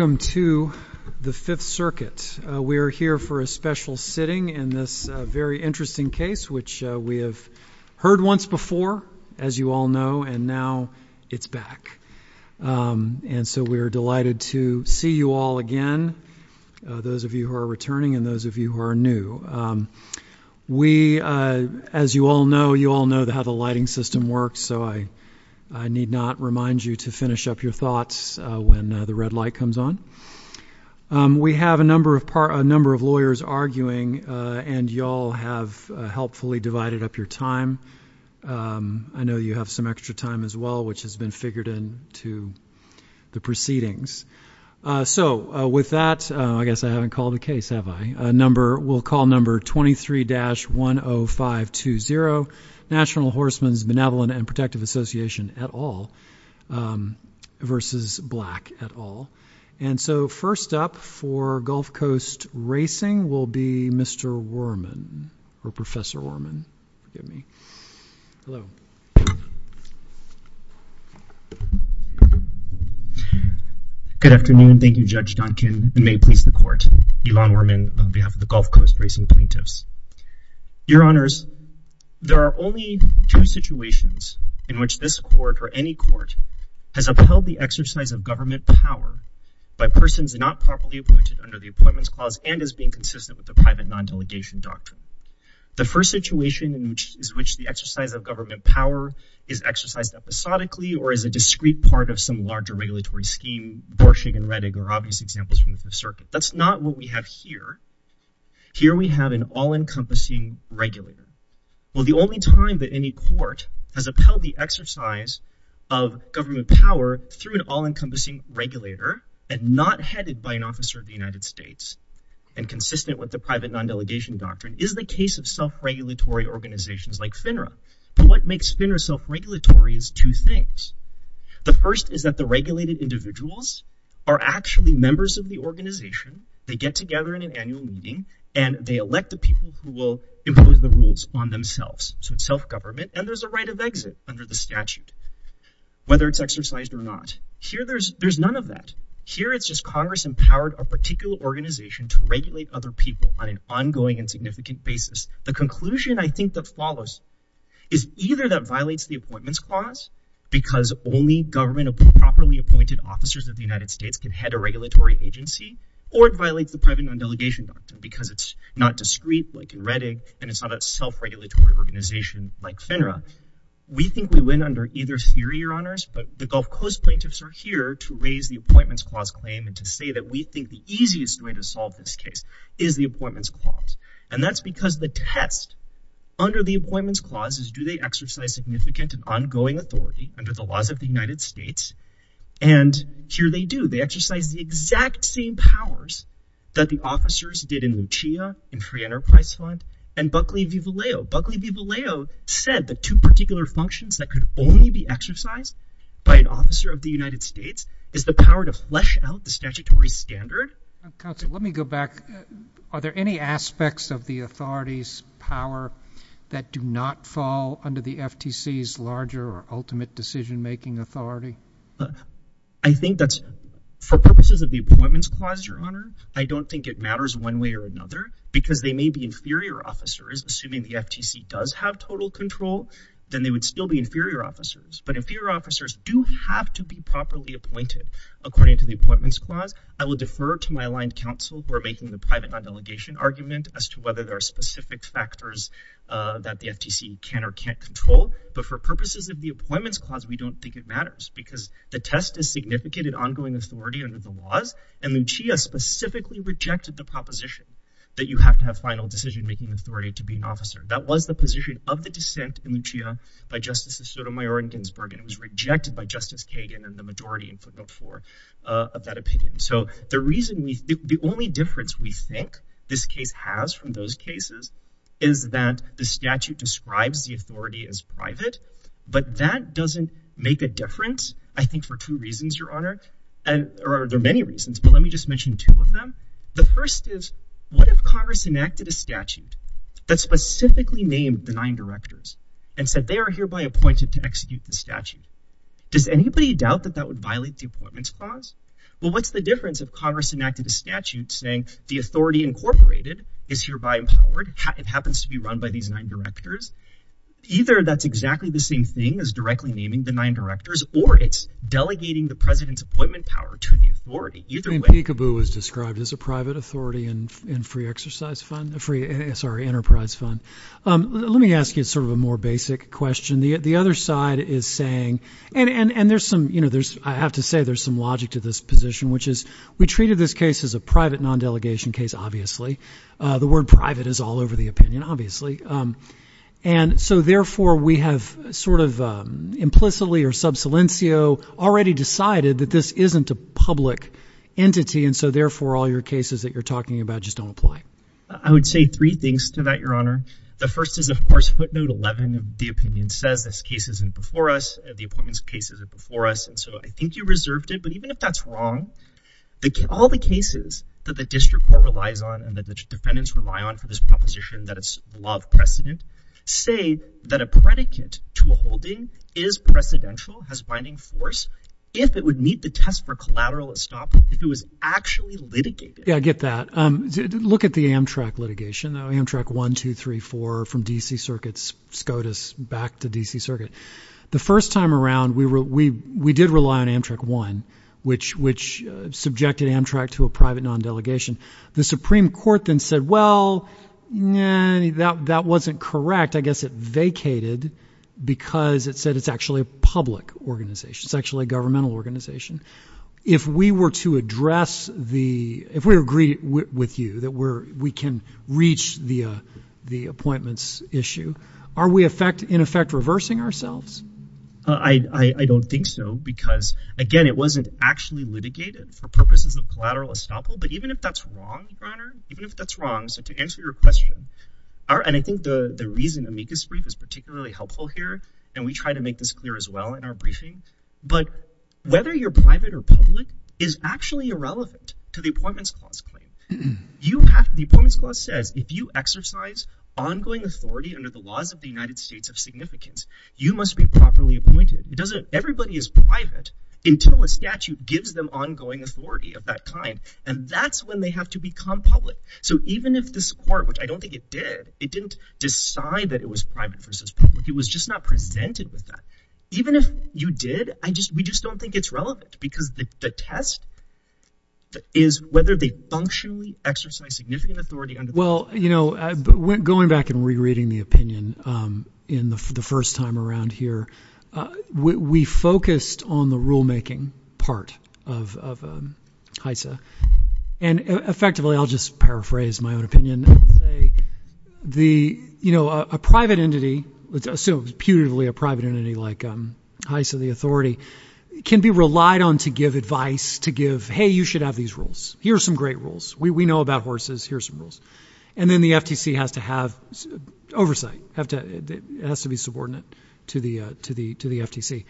Welcome to the Fifth Circuit. We are here for a special sitting in this very interesting case which we have heard once before, as you all know, and now it's back. And so we are delighted to see you all again, those of you who are returning and those of you who are new. We, as you all know, you all know how the lighting system works, so I need not remind you to finish up your thoughts when the red light comes on. We have a number of lawyers arguing and you all have helpfully divided up your time. I know you have some extra time as well, which has been figured into the proceedings. So with that, I guess I haven't called the case, have I? We'll call number 23-10520, National Horsemen's Benevolent and Protective Association, et al., versus Black, et al. And so first up for Gulf Coast Racing will be Mr. Worman, or Professor Worman. Hello. Good afternoon. Thank you, Judge Donkin, and may it please the Court. Elon Worman on behalf of the Gulf Coast Racing Plaintiffs. Your court has upheld the exercise of government power by persons not properly appointed under the Appointments Clause and is being consistent with the private non-delegation doctrine. The first situation in which the exercise of government power is exercised episodically or is a discrete part of some larger regulatory scheme, Borsig and Redig are obvious examples from the Fifth Circuit. That's not what we have here. Here we have an all-encompassing regulator. Well, the only time that any court has upheld the exercise of government power through an all-encompassing regulator and not headed by an officer of the United States and consistent with the private non-delegation doctrine is the case of self-regulatory organizations like FINRA. But what makes FINRA self-regulatory is two things. The first is that the regulated individuals are actually members of the organization. They get together in an annual meeting and they elect the people who will impose the rules on themselves. So it's self-government and there's a right of exit under the statute whether it's exercised or not. Here there's there's none of that. Here it's just Congress empowered a particular organization to regulate other people on an ongoing and significant basis. The conclusion I think that follows is either that violates the Appointments Clause because only government of properly appointed officers of the United States can head a regulatory agency or it violates the private non-delegation doctrine because it's not discreet like in Redding and it's not a self-regulatory organization like FINRA. We think we win under either theory, your honors, but the Gulf Coast plaintiffs are here to raise the Appointments Clause claim and to say that we think the easiest way to solve this case is the Appointments Clause. And that's because the test under the Appointments Clause is do they exercise significant and ongoing authority under the laws of the United States? And here they do. They exercise the exact same powers that the officers did in Lucia, in Free Enterprise Fund, and Buckley v. Vallejo. Buckley v. Vallejo said the two particular functions that could only be exercised by an officer of the United States is the power to flesh out the statutory standard. Counsel, let me go back. Are there any aspects of the authorities power that do not fall under the FTC's larger or ultimate decision-making authority? I think that's for purposes of the Appointments Clause, your honor. I don't think it matters one way or another because they may be inferior officers. Assuming the FTC does have total control, then they would still be inferior officers. But inferior officers do have to be properly appointed according to the Appointments Clause. And I'm referring to my aligned counsel who are making the private non-delegation argument as to whether there are specific factors that the FTC can or can't control. But for purposes of the Appointments Clause, we don't think it matters because the test is significant and ongoing authority under the laws. And Lucia specifically rejected the proposition that you have to have final decision-making authority to be an officer. That was the position of the dissent in Lucia by Justices Sotomayor and Ginsburg, and it was rejected by Justice Kagan and the majority in the case. The only difference we think this case has from those cases is that the statute describes the authority as private, but that doesn't make a difference, I think, for two reasons, your honor, or there are many reasons, but let me just mention two of them. The first is, what if Congress enacted a statute that specifically named the nine directors and said they are hereby appointed to execute the statute? Does anybody doubt that that would violate the Congress enacted a statute saying the authority incorporated is hereby empowered, it happens to be run by these nine directors? Either that's exactly the same thing as directly naming the nine directors, or it's delegating the president's appointment power to the authority. I mean, Peekaboo was described as a private authority and free exercise fund, free, sorry, enterprise fund. Let me ask you sort of a more basic question. The other side is saying, and there's some, you know, there's, I have to say there's some logic to this position, which is, we treated this case as a private non-delegation case, obviously. The word private is all over the opinion, obviously. And so, therefore, we have sort of implicitly or sub silencio already decided that this isn't a public entity, and so, therefore, all your cases that you're talking about just don't apply. I would say three things to that, your honor. The first is, of course, footnote 11 of the opinion says this case isn't before us, the appointments case isn't before us, so I think you reserved it, but even if that's wrong, all the cases that the district court relies on and that the defendants rely on for this proposition that it's above precedent say that a predicate to a holding is precedential, has binding force, if it would meet the test for collateral at stop, if it was actually litigated. Yeah, I get that. Look at the Amtrak litigation, Amtrak 1, 2, 3, 4 from D.C. Circuit's SCOTUS back to D.C. Circuit. The first time we did rely on Amtrak 1, which subjected Amtrak to a private non-delegation. The Supreme Court then said, well, that wasn't correct. I guess it vacated because it said it's actually a public organization, it's actually a governmental organization. If we were to address the, if we agree with you that we can reach the appointments issue, are we in effect reversing ourselves? I don't think so because, again, it wasn't actually litigated for purposes of collateral estoppel, but even if that's wrong, Your Honor, even if that's wrong, so to answer your question, and I think the reason Amicus brief is particularly helpful here, and we try to make this clear as well in our briefing, but whether you're private or public is actually irrelevant to the Appointments Clause claim. The Appointments Clause says if you exercise ongoing authority under the laws of the United States of significance, you must be properly appointed. It doesn't, everybody is private until a statute gives them ongoing authority of that kind, and that's when they have to become public. So even if this Court, which I don't think it did, it didn't decide that it was private versus public. It was just not presented with that. Even if you did, we just don't think it's relevant because the test is whether they exercise significant authority. Well, you know, going back and rereading the opinion in the first time around here, we focused on the rulemaking part of HISA, and effectively, I'll just paraphrase my own opinion and say, you know, a private entity, let's assume putatively a private entity like HISA, the authority, can be relied on to give advice, to give, hey, you should have these rules. Here are some great rules. We know about horses, here are some rules. And then the FTC has to have oversight, has to be subordinate to the FTC.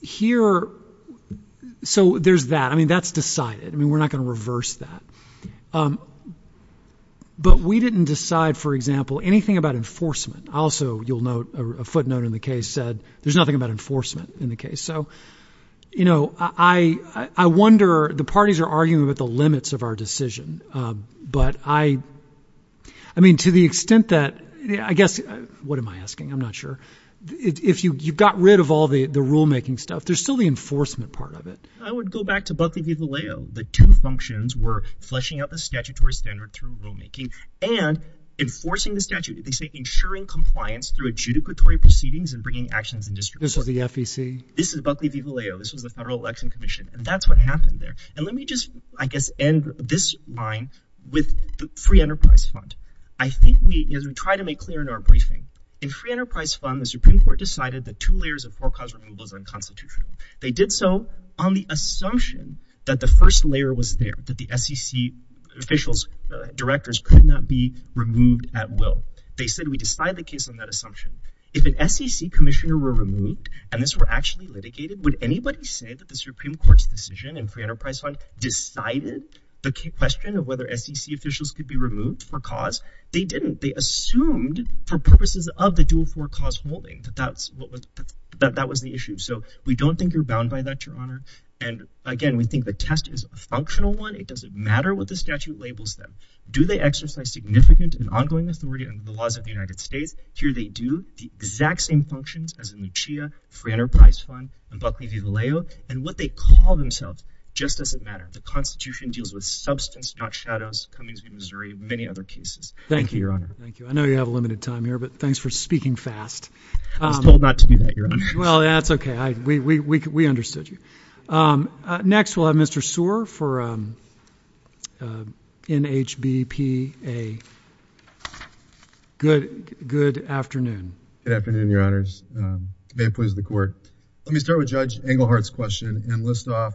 Here, so there's that. I mean, that's decided. I mean, we're not going to reverse that. But we didn't decide, for example, anything about enforcement. Also, you'll note a footnote in the said, there's nothing about enforcement in the case. So, you know, I wonder, the parties are arguing about the limits of our decision. But I mean, to the extent that, I guess, what am I asking? I'm not sure. If you got rid of all the rulemaking stuff, there's still the enforcement part of it. I would go back to Buckley v. Valeo. The two functions were fleshing out the statutory standard through rulemaking and enforcing the statute. They say ensuring compliance through adjudicatory proceedings and bringing actions in district court. This was the FTC? This is Buckley v. Valeo. This was the Federal Election Commission. And that's what happened there. And let me just, I guess, end this line with the Free Enterprise Fund. I think we, as we try to make clear in our briefing, in Free Enterprise Fund, the Supreme Court decided that two layers of forecast removal is unconstitutional. They did so on the assumption that the first layer was there, that the SEC officials, directors could not be removed at will. They said, we decide the case on that assumption. If an SEC commissioner were removed, and this were actually litigated, would anybody say that the Supreme Court's decision in Free Enterprise Fund decided the question of whether SEC officials could be removed for cause? They didn't. They assumed, for purposes of the dual forecast holding, that that was the issue. So we don't think you're bound by that, Your Honor. And again, we think the test is a functional one. It doesn't matter what the statute labels them. Do they exercise significant and ongoing authority under the laws of the United States? Here they do the exact same functions as in Lucia, Free Enterprise Fund, and Buckley v. Vallejo. And what they call themselves just doesn't matter. The Constitution deals with substance, not shadows, Cummings v. Missouri, many other cases. Thank you, Your Honor. Thank you. I know you have a limited time here, but thanks for speaking fast. I was told not to do that, Your Honor. Well, that's okay. We understood you. Next, we'll have Mr. Sear for NHBPA. Good afternoon. Good afternoon, Your Honors. May it please the Court. Let me start with Judge Englehart's question and list off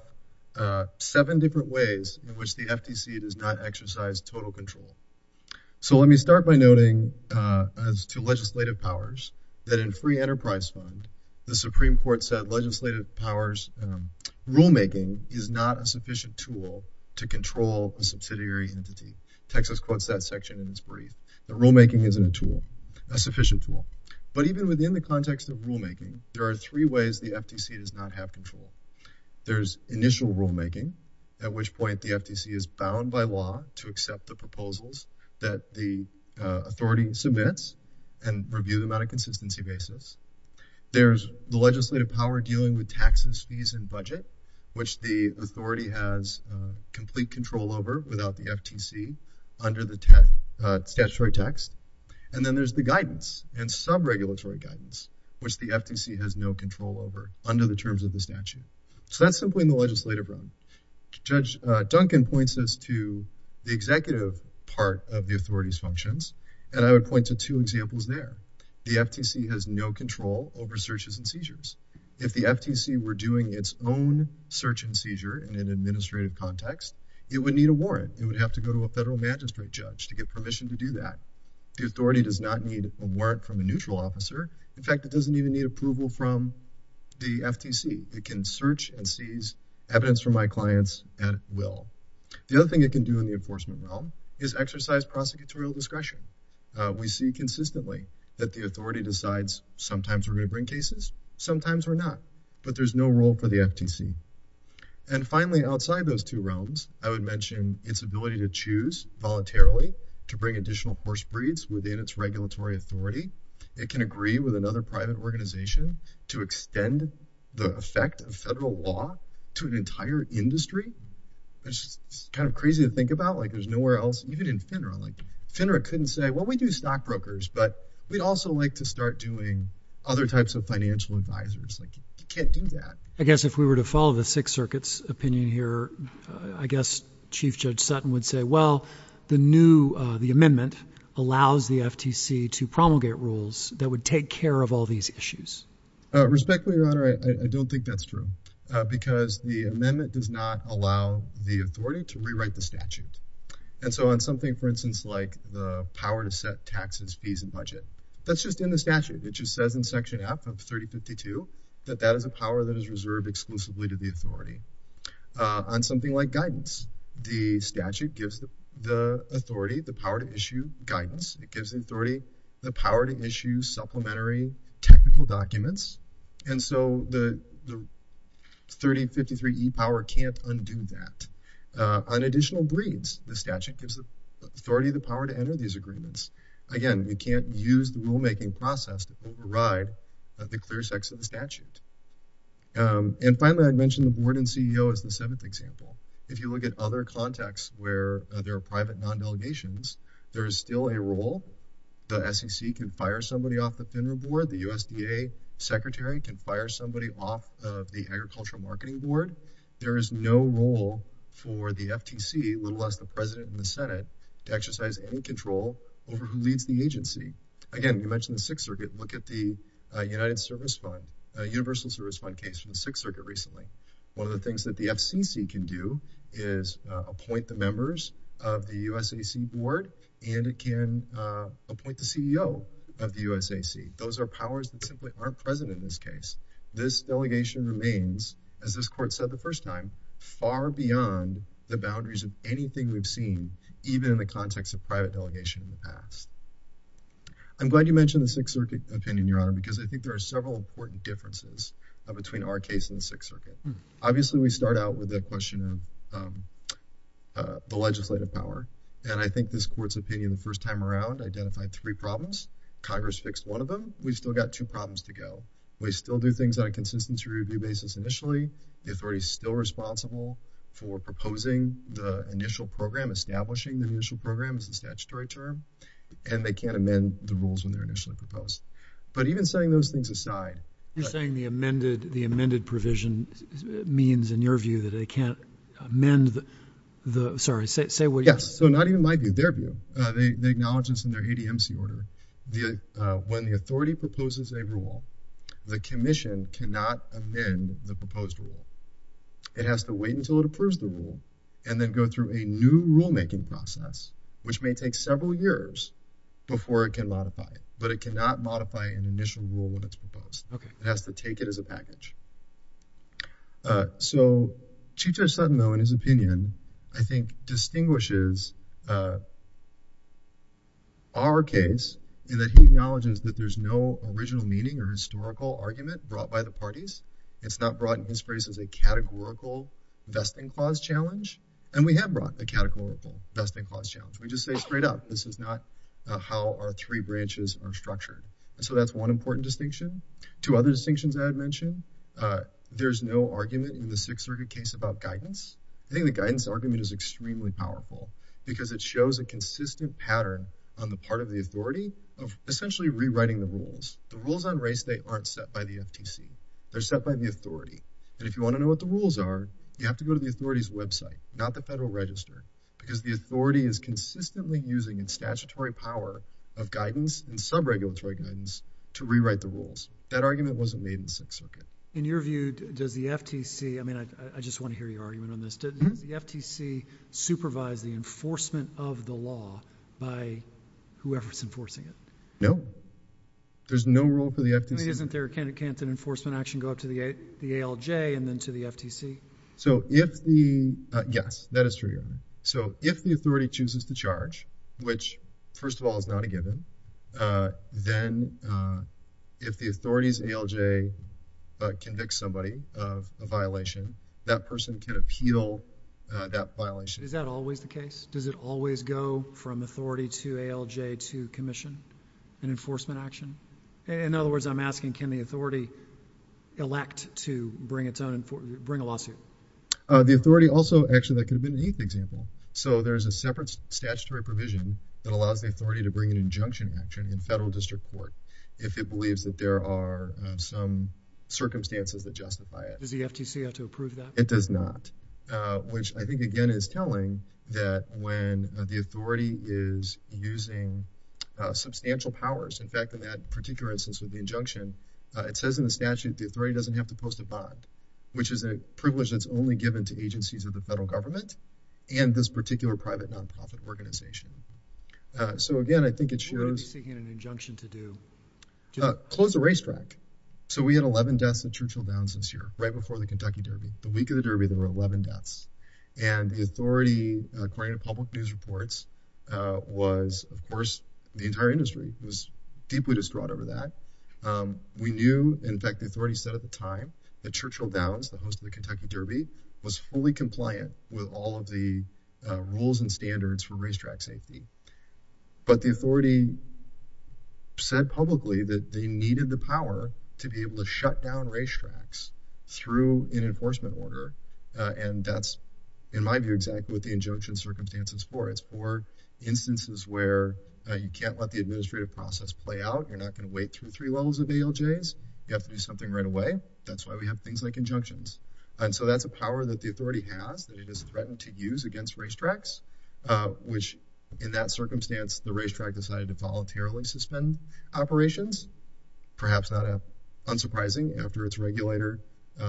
seven different ways in which the FTC does not exercise total control. So let me start by noting, as to legislative powers, that in Free Enterprise Fund, the Supreme Court said legislative powers, rulemaking is not a sufficient tool to control a subsidiary entity. Texas quotes that section in its brief, that rulemaking isn't a tool, a sufficient tool. But even within the context of rulemaking, there are three ways the FTC does not have control. There's initial rulemaking, at which point the FTC is bound by law to accept the legislative power dealing with taxes, fees, and budget, which the authority has complete control over without the FTC under the statutory text. And then there's the guidance and sub-regulatory guidance, which the FTC has no control over under the terms of the statute. So that's simply in the legislative realm. Judge Duncan points us to the executive part of the authority's functions, and I would point to two examples there. The FTC has no control over searches and seizures. If the FTC were doing its own search and seizure in an administrative context, it would need a warrant. It would have to go to a federal magistrate judge to get permission to do that. The authority does not need a warrant from a neutral officer. In fact, it doesn't even need approval from the FTC. It can search and seize evidence from my clients at will. The other thing it can do in the enforcement realm is exercise prosecutorial discretion. We see consistently that the authority decides sometimes we're going to bring cases, sometimes we're not, but there's no role for the FTC. And finally, outside those two realms, I would mention its ability to choose voluntarily to bring additional horse breeds within its regulatory authority. It can agree with another private organization to extend the effect of federal law to an entire industry, which is kind of crazy to think about. Like, there's nowhere else, even in FINRA. Like, FINRA couldn't say, well, we do stockbrokers, but we'd also like to start doing other types of financial advisors. Like, you can't do that. I guess if we were to follow the Sixth Circuit's opinion here, I guess Chief Judge Sutton would say, well, the new, the amendment allows the FTC to promulgate rules that would take care of all these issues. Respectfully, Your Honor, I don't think that's true because the amendment does not allow the authority to rewrite the statute. And so on something, for instance, like the power to set taxes, fees, and budget, that's just in the statute. It just says in Section F of 3052 that that is a power that is reserved exclusively to the authority. On something like guidance, the statute gives the authority the power to issue guidance. It gives the authority the power to issue supplementary technical documents. And so the 3053e power can't undo that. On additional breeds, the statute gives the authority the power to enter these agreements. Again, you can't use the rulemaking process to override the clear sex of the statute. And finally, I'd mentioned the board and CEO as the seventh example. If you look at other contexts where there are private non-delegations, there is still a role. The SEC can fire somebody off the FINRA board. The USDA Secretary can fire somebody off of the Agricultural Marketing Board. There is no role for the FTC, let alone the President and the Senate, to exercise any control over who leads the agency. Again, you mentioned the Sixth Circuit. Look at the United Service Fund, a universal service fund case from the Sixth Circuit recently. One of the things that the FCC can do is appoint the members of the USCC board, and it can appoint the CEO of the USCC. Those are powers that simply aren't present in this case. This delegation remains, as this court said the first time, far beyond the boundaries of anything we've seen, even in the context of private delegation in the past. I'm glad you mentioned the Sixth Circuit opinion, Your Honor, because I think there are several important differences between our case and the Sixth Circuit. Obviously, we start out with the question of the legislative power. I think this court's opinion, the first time around, identified three problems. Congress fixed one of them. We've still got two problems to go. We still do things on a consistency review basis initially. The authority is still responsible for proposing the initial program, establishing the initial program as a statutory term, and they can't amend the rules when they're initially proposed. Even setting those things aside. You're saying the amended provision means, in your view, that they can't amend the... Sorry, say what you... Yes. Not even my view, their view. They acknowledge this in their ADMC order. When the authority proposes a rule, the commission cannot amend the proposed rule. It has to wait until it approves the rule, and then go through a new rulemaking process, which may take several years before it can modify it, but it cannot modify an initial rule when it's proposed. It has to take it as a package. Chief Judge Sutton, though, in his opinion, I think distinguishes our case in that he acknowledges that there's no original meaning or historical argument brought by the parties. It's not brought in his phrase as a categorical vesting clause challenge, and we have brought a categorical vesting clause challenge. We just say this is not how our three branches are structured. That's one important distinction. Two other distinctions I had mentioned. There's no argument in the Sixth Circuit case about guidance. I think the guidance argument is extremely powerful, because it shows a consistent pattern on the part of the authority of essentially rewriting the rules. The rules on race day aren't set by the FTC. They're set by the authority. If you want to know what the rules are, you have to go to the authority's website, not the federal register, because the authority is consistently using its statutory power of guidance and subregulatory guidance to rewrite the rules. That argument wasn't made in the Sixth Circuit. In your view, does the FTC, I mean, I just want to hear your argument on this. Does the FTC supervise the enforcement of the law by whoever's enforcing it? No. There's no rule for the FTC. I mean, isn't there a candidate enforcement action go up to the ALJ and then to the FTC? So if the, yes, that is true. So if the authority chooses to charge, which first of all is not a given, then if the authority's ALJ convicts somebody of a violation, that person can appeal that violation. Is that always the case? Does it always go from authority to ALJ to commission an enforcement action? In other words, I'm asking, can the authority also, actually that could have been an eighth example. So there's a separate statutory provision that allows the authority to bring an injunction action in federal district court if it believes that there are some circumstances that justify it. Does the FTC have to approve that? It does not, which I think again is telling that when the authority is using substantial powers, in fact, in that particular instance with the injunction, it says in the statute the authority doesn't have to post a bond, which is a privilege that's only given to agencies of the federal government and this particular private non-profit organization. So again, I think it shows. What would it be seeking an injunction to do? Close the racetrack. So we had 11 deaths in Churchill Downs this year, right before the Kentucky Derby. The week of the Derby, there were 11 deaths. And the authority, according to public news reports, was, of course, the entire industry was deeply distraught over that. We knew, in fact, the authority said at the time that Churchill Downs, the host of the Kentucky Derby, was fully compliant with all of the rules and standards for racetrack safety. But the authority said publicly that they needed the power to be able to shut down racetracks through an enforcement order. And that's, in my view, exactly what the injunction circumstance is for. It's for instances where you can't let the administrative process play out. You're not going to wait through three levels of ALJs. You have to do something right away. That's why we have things like injunctions. And so that's a power that the authority has that it has threatened to use against racetracks, which, in that circumstance, the racetrack decided to voluntarily suspend operations. Perhaps not unsurprising, after its regulator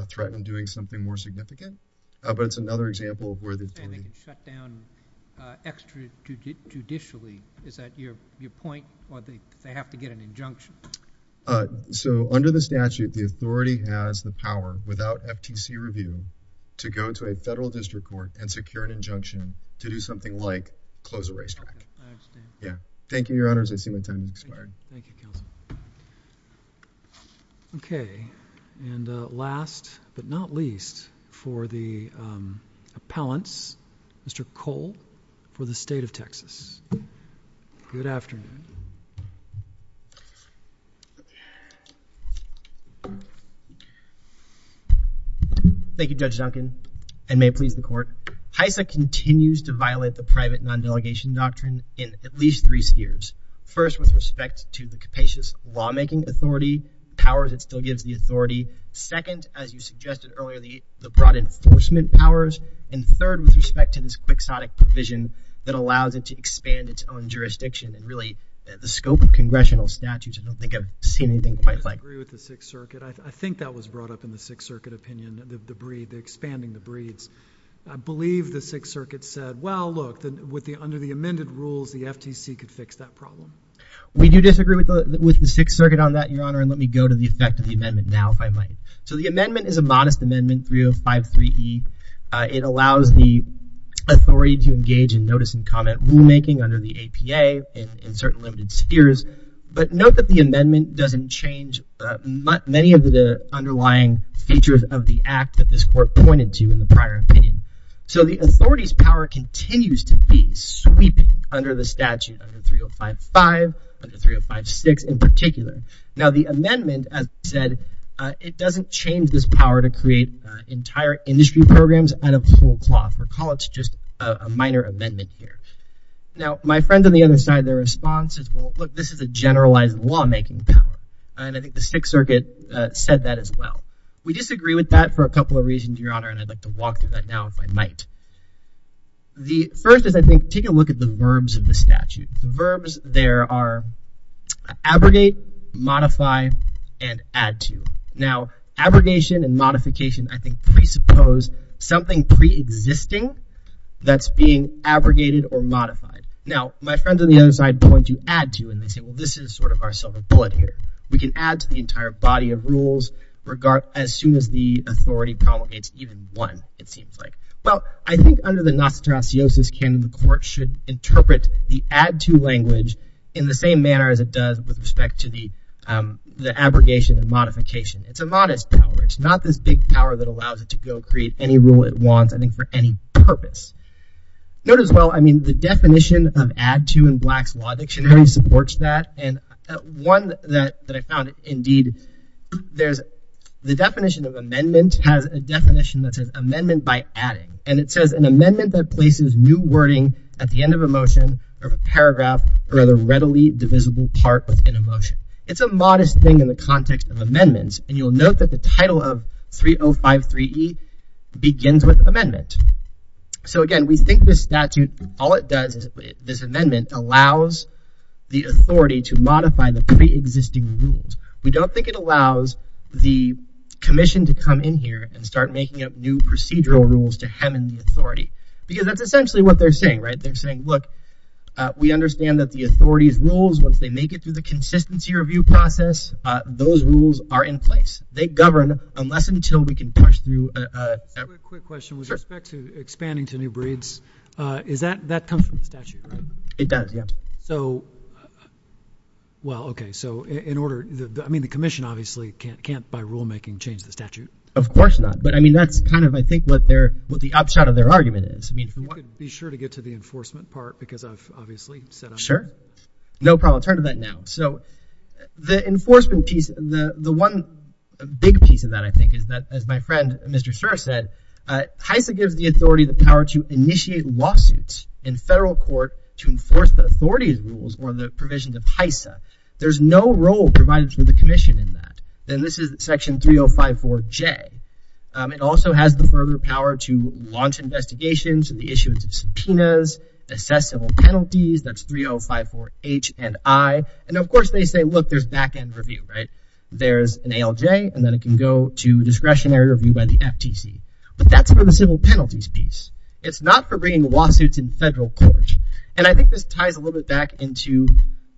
threatened doing something more significant. But it's another example of where the authority— —shut down extra-judicially. Is that your point? Or they have to get an injunction. Under the statute, the authority has the power, without FTC review, to go to a federal district court and secure an injunction to do something like close a racetrack. Yeah. Thank you, Your Honors. I see my time has expired. Thank you, Kelsey. Okay. And last but not least for the appellants, Mr. Cole for the state of Texas. Good afternoon. Thank you, Judge Duncan, and may it please the Court. HISA continues to violate the private non-delegation doctrine in at least three spheres. First, with respect to the capacious lawmaking authority powers it still gives the authority. Second, as you suggested earlier, the broad enforcement powers. And third, with respect to this quixotic provision that allows it to expand its own jurisdiction. And really, the scope of congressional statutes, I don't think I've seen anything quite like— I disagree with the Sixth Circuit. I think that was brought up in the Sixth Circuit opinion, the expanding the breeds. I believe the Sixth Circuit said, well, look, under the amended rules, the FTC could fix that problem. We do disagree with the Sixth Circuit on that, Your Honor, and let me go to the effect of the amendment now, if I might. So the amendment is a modest amendment, 3053E. It allows the authority to engage in notice and comment rulemaking under the APA in certain limited spheres. But note that the amendment doesn't change many of the underlying features of the act that this court pointed to in the prior opinion. So the authority's power continues to be sweeping under the statute, under 3055, under 3056 in particular. Now, the amendment, as I said, it doesn't change this power to create entire industry programs out of whole cloth. Recall it's just a minor amendment here. Now, my friend on the other side, their response is, well, look, this is a generalized lawmaking power. And I think the Sixth Circuit said that as well. We disagree with that for a couple of reasons, Your Honor, and I'd like to walk through that now, if I might. The first is, I think, take a look at the verbs of the statute. The verbs there are abrogate, modify, and add to. Now, abrogation and modification, I think, presuppose something pre-existing that's being abrogated or modified. Now, my friends on the other side point to add to, and they say, well, this is sort of our silver bullet here. We can add to the entire body of rules as soon as the authority promulgates even one, it seems like. Well, I think under the Nostratiosus, the court should interpret the add to language in the same manner as it does with respect to the abrogation and modification. It's a modest power. It's not this big power that allows it to go create any rule it wants, I think, for any purpose. Note as well, I mean, the definition of add to in Black's Law Dictionary supports that. And one that I found, indeed, there's the definition of amendment has a definition that says amendment by adding. And it says, an amendment that places new wording at the end of a motion or paragraph or other readily divisible part within a motion. It's a modest thing in the context of amendments. And you'll note that the begins with amendment. So again, we think this statute, all it does is this amendment allows the authority to modify the pre-existing rules. We don't think it allows the commission to come in here and start making up new procedural rules to hem in the authority, because that's essentially what they're saying, right? They're saying, look, we understand that the authority's rules, once they make it through the consistency review process, those rules are in place. They govern unless and until we can push through. A quick question with respect to expanding to new breeds. Is that that comes from the statute? It does, yeah. So, well, okay. So in order, I mean, the commission obviously can't, by rulemaking, change the statute. Of course not. But I mean, that's kind of, I think, what their, what the upshot of their argument is. I mean, be sure to get to the enforcement part, because I've obviously said. Sure. No problem. Turn to that now. So the enforcement piece, the one big piece of that, I think, is that, as my friend, Mr. Sir said, HISA gives the authority, the power to initiate lawsuits in federal court to enforce the authority's rules or the provisions of HISA. There's no role provided for the commission in that. And this is section 3054J. It also has the further power to launch investigations and the of course, they say, look, there's back-end review, right? There's an ALJ, and then it can go to discretionary review by the FTC. But that's for the civil penalties piece. It's not for bringing lawsuits in federal court. And I think this ties a little bit back into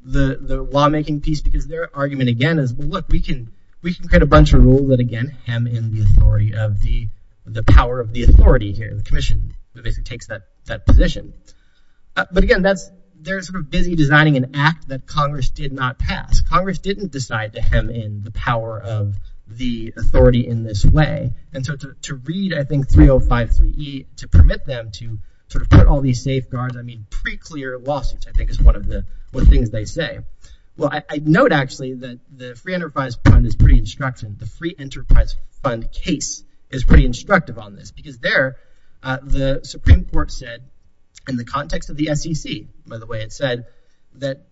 the lawmaking piece, because their argument again is, well, look, we can create a bunch of rules that again, hem in the authority of the, the power of the authority here. The commission basically takes that position. But again, that's, they're sort of busy designing an act that Congress did not pass. Congress didn't decide to hem in the power of the authority in this way. And so to read, I think, 3053E to permit them to sort of put all these safeguards, I mean, pre-clear lawsuits, I think is one of the things they say. Well, I note actually that the Free Enterprise Fund is pretty instructive. The Free Enterprise Fund case is pretty instructive on this because there, the Supreme Court said, in the context of the SEC, by the way, it said that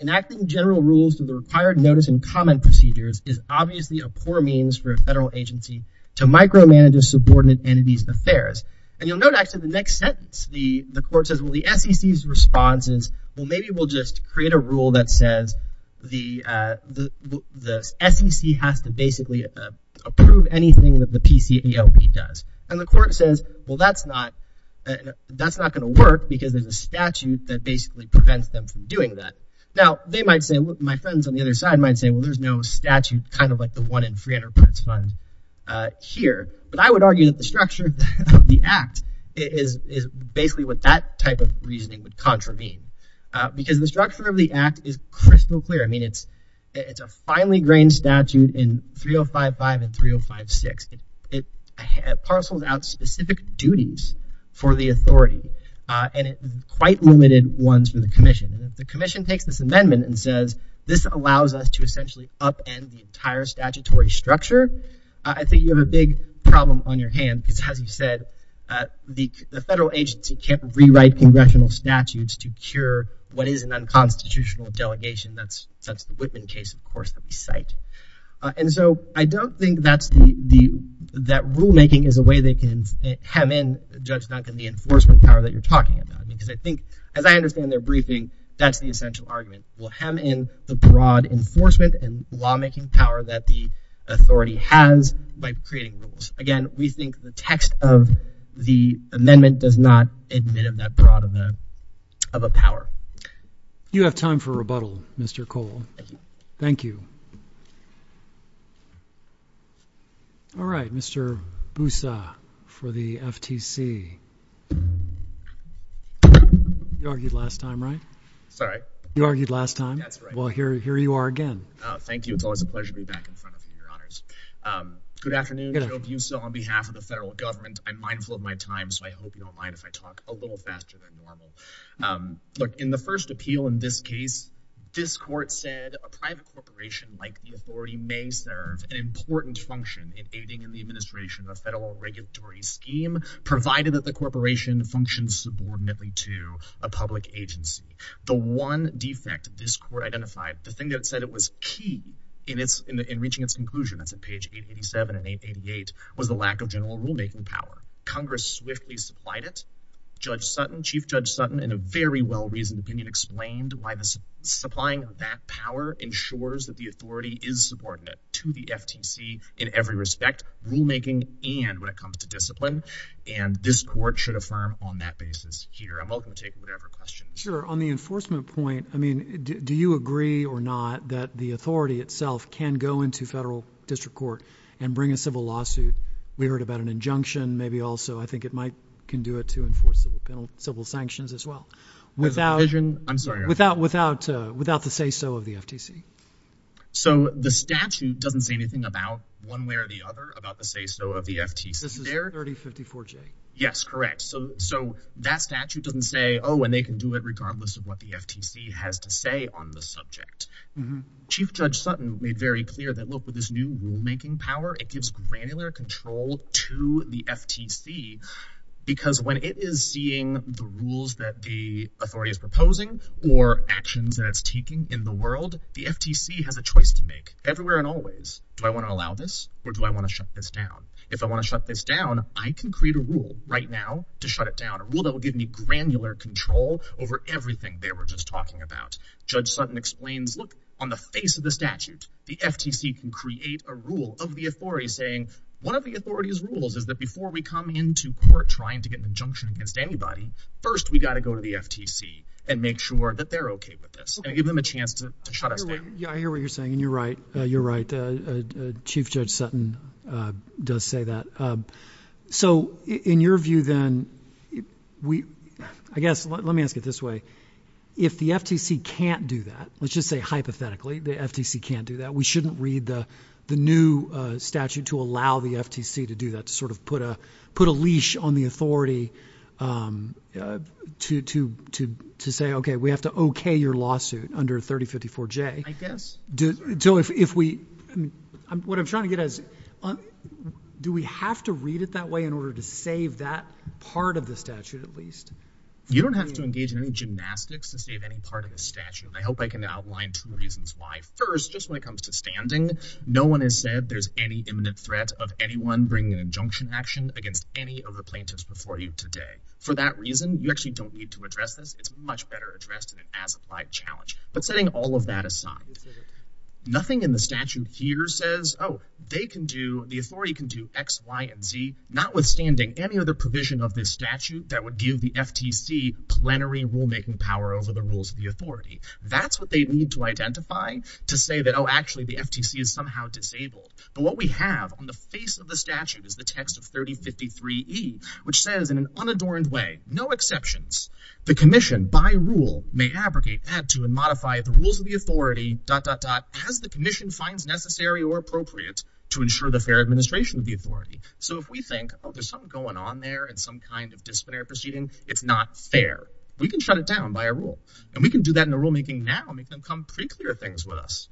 enacting general rules to the required notice and comment procedures is obviously a poor means for a federal agency to micromanage a subordinate entity's affairs. And you'll note actually the next sentence, the, the court says, well, the SEC's response is, well, maybe we'll just create a rule that says the, the SEC has to basically approve anything that the PCAOB does. And the court says, well, that's not, that's not going to work because there's a statute that basically prevents them from doing that. Now they might say, my friends on the other side might say, well, there's no statute, kind of like the one in Free Enterprise Fund here. But I would argue that the structure of the act is, is basically what that type of reasoning would contravene. Because the structure of the act is crystal clear. I mean, it's, it's a finely grained statute in 3055 and 3056. It parcels out specific duties for the authority. And it, quite limited ones for the commission. And if the commission takes this amendment and says, this allows us to essentially upend the entire statutory structure, I think you have a big problem on your hand. Because as you said, the, the federal agency can't rewrite congressional statutes to cure what is an unconstitutional delegation. That's, that's the Whitman case, of course, that we cite. And so I don't think that's the, the, that rulemaking is a way they can hem in, Judge Duncan, the enforcement power that you're talking about. Because I think, as I understand their briefing, that's the essential argument. We'll hem in the broad enforcement and lawmaking power that the authority has by creating rules. Again, we think the text of the amendment does not admit of that of a power. You have time for rebuttal, Mr. Cole. Thank you. All right, Mr. Busa for the FTC. You argued last time, right? Sorry, you argued last time. That's right. Well, here you are again. Thank you. It's always a pleasure to be back in front of you, Your Honors. Good afternoon. I hope you saw on behalf of the federal government. I'm mindful of my time. So I hope you don't mind if I talk a little faster than normal. Look, in the first appeal in this case, this court said a private corporation like the authority may serve an important function in aiding in the administration of a federal regulatory scheme, provided that the corporation functions subordinately to a public agency. The one defect this court identified, the thing that it said it was key in reaching its conclusion, that's at page 887 and 888, was the lack of general rulemaking power. Congress swiftly supplied it. Judge Sutton, Chief Judge Sutton, in a very well-reasoned opinion, explained why the supplying of that power ensures that the authority is subordinate to the FTC in every respect, rulemaking, and when it comes to discipline. And this court should affirm on that basis here. I'm welcome to take whatever questions. Sure. On the enforcement point, I mean, do you agree or not that the authority itself can go into federal district court and bring a civil lawsuit? We can do it to enforce civil penal, civil sanctions as well. Without, I'm sorry, without, without, without the say-so of the FTC. So the statute doesn't say anything about one way or the other about the say-so of the FTC. This is 3054-J. Yes, correct. So, so that statute doesn't say, oh, and they can do it regardless of what the FTC has to say on the subject. Chief Judge Sutton made very Because when it is seeing the rules that the authority is proposing or actions that it's taking in the world, the FTC has a choice to make everywhere and always. Do I want to allow this or do I want to shut this down? If I want to shut this down, I can create a rule right now to shut it down. A rule that will give me granular control over everything they were just talking about. Judge Sutton explains, look, on the face of the statute, the FTC can create a rule of the to get an injunction against anybody. First, we got to go to the FTC and make sure that they're okay with this and give them a chance to shut us down. Yeah, I hear what you're saying. And you're right. You're right. Chief Judge Sutton does say that. So in your view, then we, I guess, let me ask it this way. If the FTC can't do that, let's just say, hypothetically, the FTC can't do that. We shouldn't read the new statute to allow the FTC to do that, to sort of put a put a leash on the authority to say, okay, we have to okay your lawsuit under 3054J. I guess. So if we, what I'm trying to get at is, do we have to read it that way in order to save that part of the statute, at least? You don't have to engage in any gymnastics to save any part of the statute. I hope I can outline two reasons why. First, just when it comes to standing, no one has said there's any imminent threat of anyone bringing an injunction action against any of the plaintiffs before you today. For that reason, you actually don't need to address this. It's much better addressed in an as-applied challenge. But setting all of that aside, nothing in the statute here says, oh, they can do, the authority can do x, y, and z, notwithstanding any other provision of this statute that would give the FTC plenary rulemaking power over the rules of the authority. That's what they need to identify to say that, oh, actually the FTC is somehow disabled. But what we have on the face of the statute is the text of 3053E, which says in an unadorned way, no exceptions. The commission, by rule, may abrogate, add to, and modify the rules of the authority, dot, dot, dot, as the commission finds necessary or appropriate to ensure the fair administration of the authority. So if we think, oh, there's something going on there in some kind of disciplinary proceeding, it's not fair, we can shut it down by a rule. And we can do that in the rulemaking now, make them come pretty clear things with us.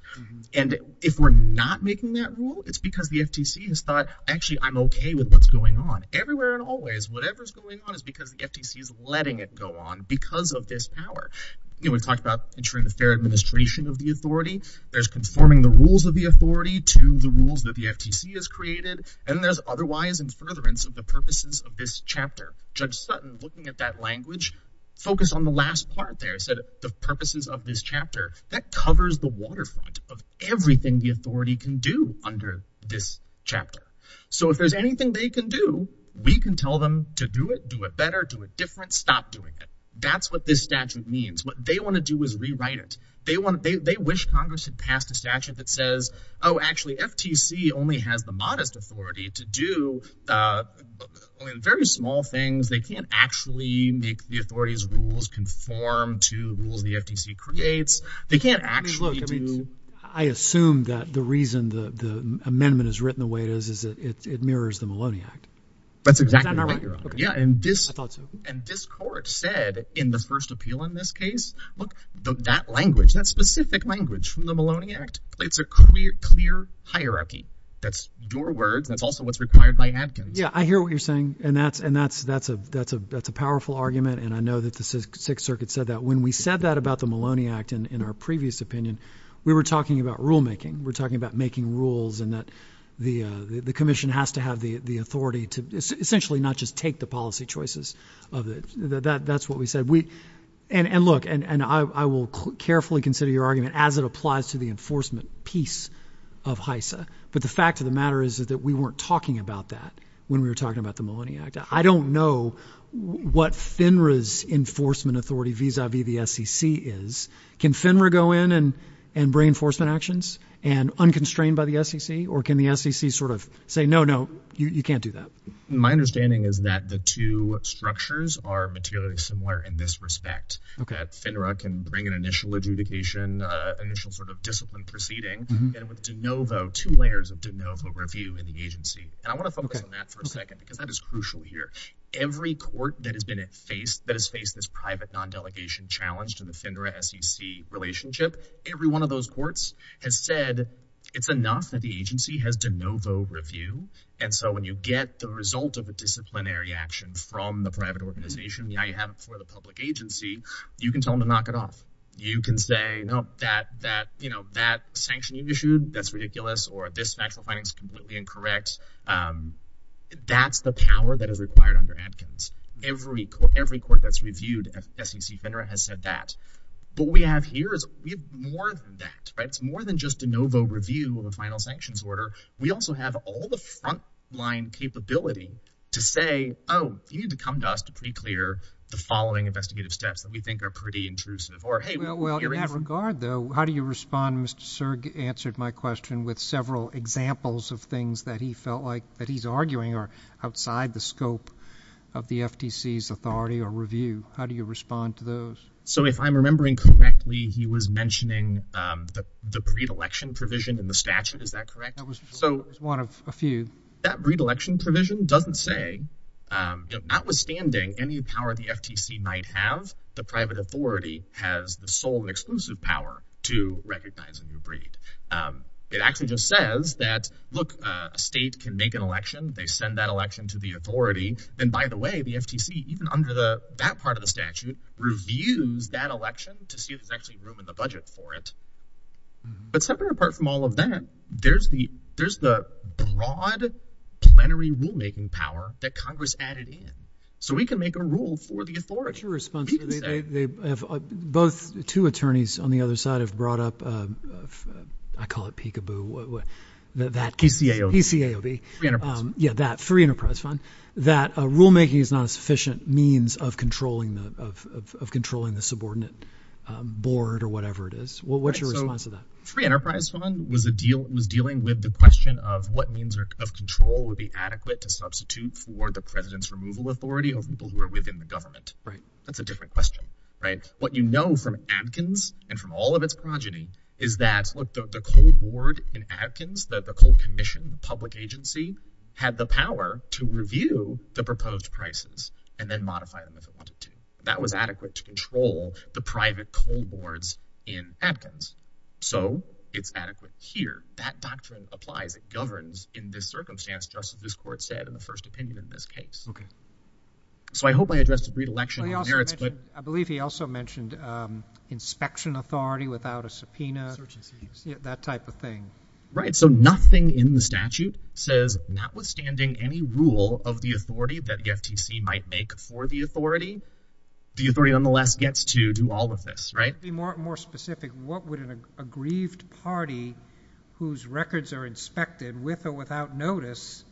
And if we're not making that rule, it's because the FTC has thought, actually, I'm okay with what's going on. Everywhere and always, whatever's going on is because the FTC is letting it go on because of this power. You know, we talked about ensuring the fair administration of the authority. There's conforming the rules of the authority to the rules that the FTC has created, and there's otherwise and furtherance of the purposes of this chapter. Judge Sutton, looking at that language, focused on the last part there, said the purposes of this chapter, that covers the waterfront of everything the authority can do under this chapter. So if there's anything they can do, we can tell them to do it, do it better, do it different, stop doing it. That's what this statute means. What they want to do is rewrite it. They wish Congress had passed a statute that says, oh, actually, FTC only has the modest authority to do very small things. They can't actually make the conform to the rules the FTC creates. They can't actually do... Trevor Burrus I mean, look, I mean, I assume that the reason the amendment is written the way it is, is that it mirrors the Maloney Act. Judge Sutton That's exactly right. Trevor Burrus Is that not right, Your Honor? Judge Sutton Yeah. And this... Trevor Burrus I thought so. Judge Sutton And this court said in the first appeal in this case, look, that language, that specific language from the Maloney Act, it's a clear hierarchy. That's your words. That's also what's required by Adkins. Trevor Burrus Yeah, I hear what you're saying. And that's a powerful argument. And I know that the Sixth Circuit said that when we said that about the Maloney Act in our previous opinion, we were talking about rulemaking. We're talking about making rules and that the commission has to have the authority to essentially not just take the policy choices of it. That's what we said. And look, and I will carefully consider your argument as it applies to the enforcement piece of HISA. But the fact of the matter is that we weren't talking about that when we were talking about the Maloney Act. I don't know what FINRA's enforcement authority vis-a-vis the SEC is. Can FINRA go in and bring enforcement actions and unconstrained by the SEC? Or can the SEC sort of say, no, no, you can't do that? Judge Sutton My understanding is that the two structures are materially similar in this respect. FINRA can bring an initial adjudication, initial sort of discipline proceeding with de novo, two layers of de novo review in the agency. And I want to focus on that for a second, because that is crucial here. Every court that has been faced, that has faced this private non-delegation challenge to the FINRA-SEC relationship, every one of those courts has said it's enough that the agency has de novo review. And so when you get the result of a disciplinary action from the private organization, now you have it for the public agency, you can tell them to knock it off. You can say, no, that, that, you know, that sanction you've issued, that's ridiculous, or this factual finding is completely incorrect. That's the power that is required under Adkins. Every court, every court that's reviewed SEC FINRA has said that. But what we have here is we have more than that, right? It's more than just de novo review of a final sanctions order. We also have all the frontline capability to say, oh, you need to come to us to pre-clear the following investigative steps that we think are pretty intrusive, or, hey, we're hearing from— of things that he felt like that he's arguing are outside the scope of the FTC's authority or review. How do you respond to those? So if I'm remembering correctly, he was mentioning the breed election provision in the statute, is that correct? That was one of a few. That breed election provision doesn't say, notwithstanding any power the FTC might have, the private authority has the sole and exclusive power to recognize a new breed. It actually just says that, look, a state can make an election. They send that election to the authority. And by the way, the FTC, even under that part of the statute, reviews that election to see if there's actually room in the budget for it. But separate apart from all of that, there's the broad plenary rulemaking power that Congress added in. So we can make a rule for the authority. What's your response to—both two attorneys on the other side have brought up—I call it peekaboo—that— PCAOB. PCAOB. Free Enterprise Fund. Yeah, that. Free Enterprise Fund. That rulemaking is not a sufficient means of controlling the subordinate board or whatever it is. What's your response to that? Free Enterprise Fund was dealing with the question of what means of control would be adequate to substitute for the president's removal authority of people who are within the government. Right. That's a different question, right? What you know from Adkins and from all of its progeny is that, look, the coal board in Adkins, the coal commission, the public agency, had the power to review the proposed prices and then modify them if it wanted to. That was adequate to control the private coal boards in Adkins. So it's adequate here. That doctrine applies. It governs in this circumstance, just as this court said in the first opinion in this case. Okay. So I hope I addressed the predilection of merits, but— I believe he also mentioned inspection authority without a subpoena. Search and see. Yeah, that type of thing. Right. So nothing in the statute says, notwithstanding any rule of the authority that the FTC might make for the authority, the authority nonetheless gets to do all of this, right? To be more specific, what would an aggrieved party whose records are inspected with or the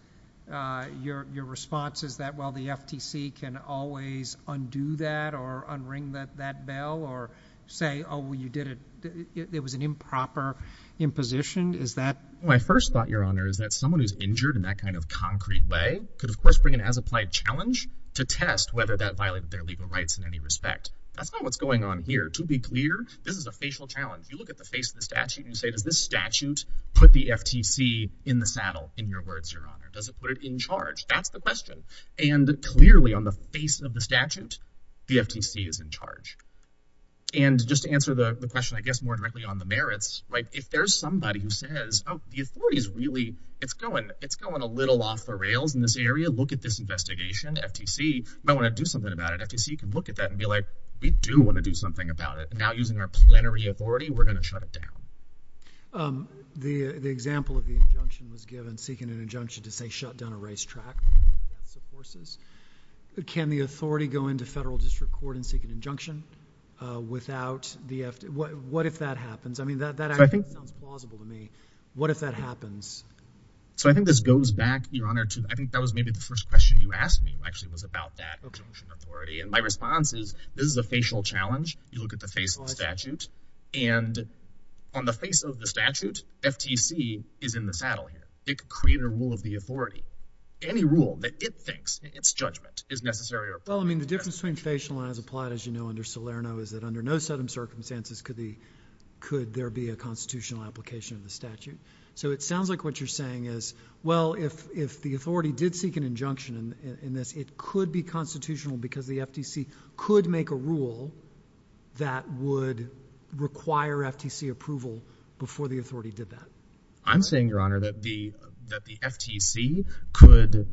response is that, well, the FTC can always undo that or unring that bell or say, oh, you did it. It was an improper imposition. Is that— My first thought, Your Honor, is that someone who's injured in that kind of concrete way could of course bring an as-applied challenge to test whether that violated their legal rights in any respect. That's not what's going on here. To be clear, this is a facial challenge. You look at the face of the statute and say, does this statute put the FTC in the saddle in your words, Your Honor? Does it put it in charge? That's the question. And clearly on the face of the statute, the FTC is in charge. And just to answer the question, I guess, more directly on the merits, right, if there's somebody who says, oh, the authority is really—it's going a little off the rails in this area. Look at this investigation. FTC might want to do something about it. FTC can look at that and be like, we do want to do something about it. Now using our plenary authority, we're going to shut it down. The example of the injunction was given, seeking an injunction to say, shut down a racetrack of horses. Can the authority go into federal district court and seek an injunction without the FTC? What if that happens? I mean, that sounds plausible to me. What if that happens? So I think this goes back, Your Honor, to—I think that was maybe the first question you asked me, actually, was about that injunction authority. And my response is, this is a facial statute, and on the face of the statute, FTC is in the saddle here. It could create a rule of the authority. Any rule that it thinks, its judgment, is necessary or appropriate. Well, I mean, the difference between facial and as applied, as you know, under Salerno is that under no certain circumstances could there be a constitutional application of the statute. So it sounds like what you're saying is, well, if the authority did seek an injunction in this, it could be constitutional because the FTC could make a rule that would require FTC approval before the authority did that. I'm saying, Your Honor, that the FTC could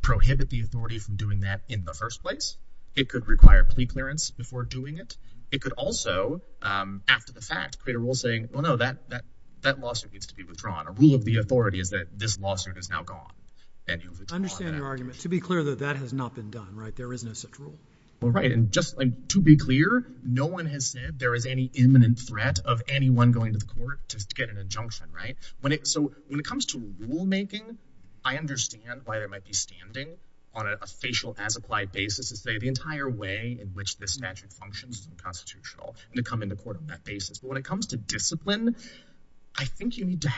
prohibit the authority from doing that in the first place. It could require plea clearance before doing it. It could also, after the fact, create a rule saying, well, no, that lawsuit needs to be withdrawn. A rule of the authority is that this lawsuit is now gone, and you'll withdraw that. I understand your argument. To be clear, though, that has not been done, right? There is no such rule. Well, right. And just to be clear, no one has said there is any imminent threat of anyone going to the court to get an injunction, right? So when it comes to rulemaking, I understand why there might be standing on a facial as applied basis to say the entire way in which this statute functions is unconstitutional, and to come into court on that basis. But when it comes to discipline, I think you need to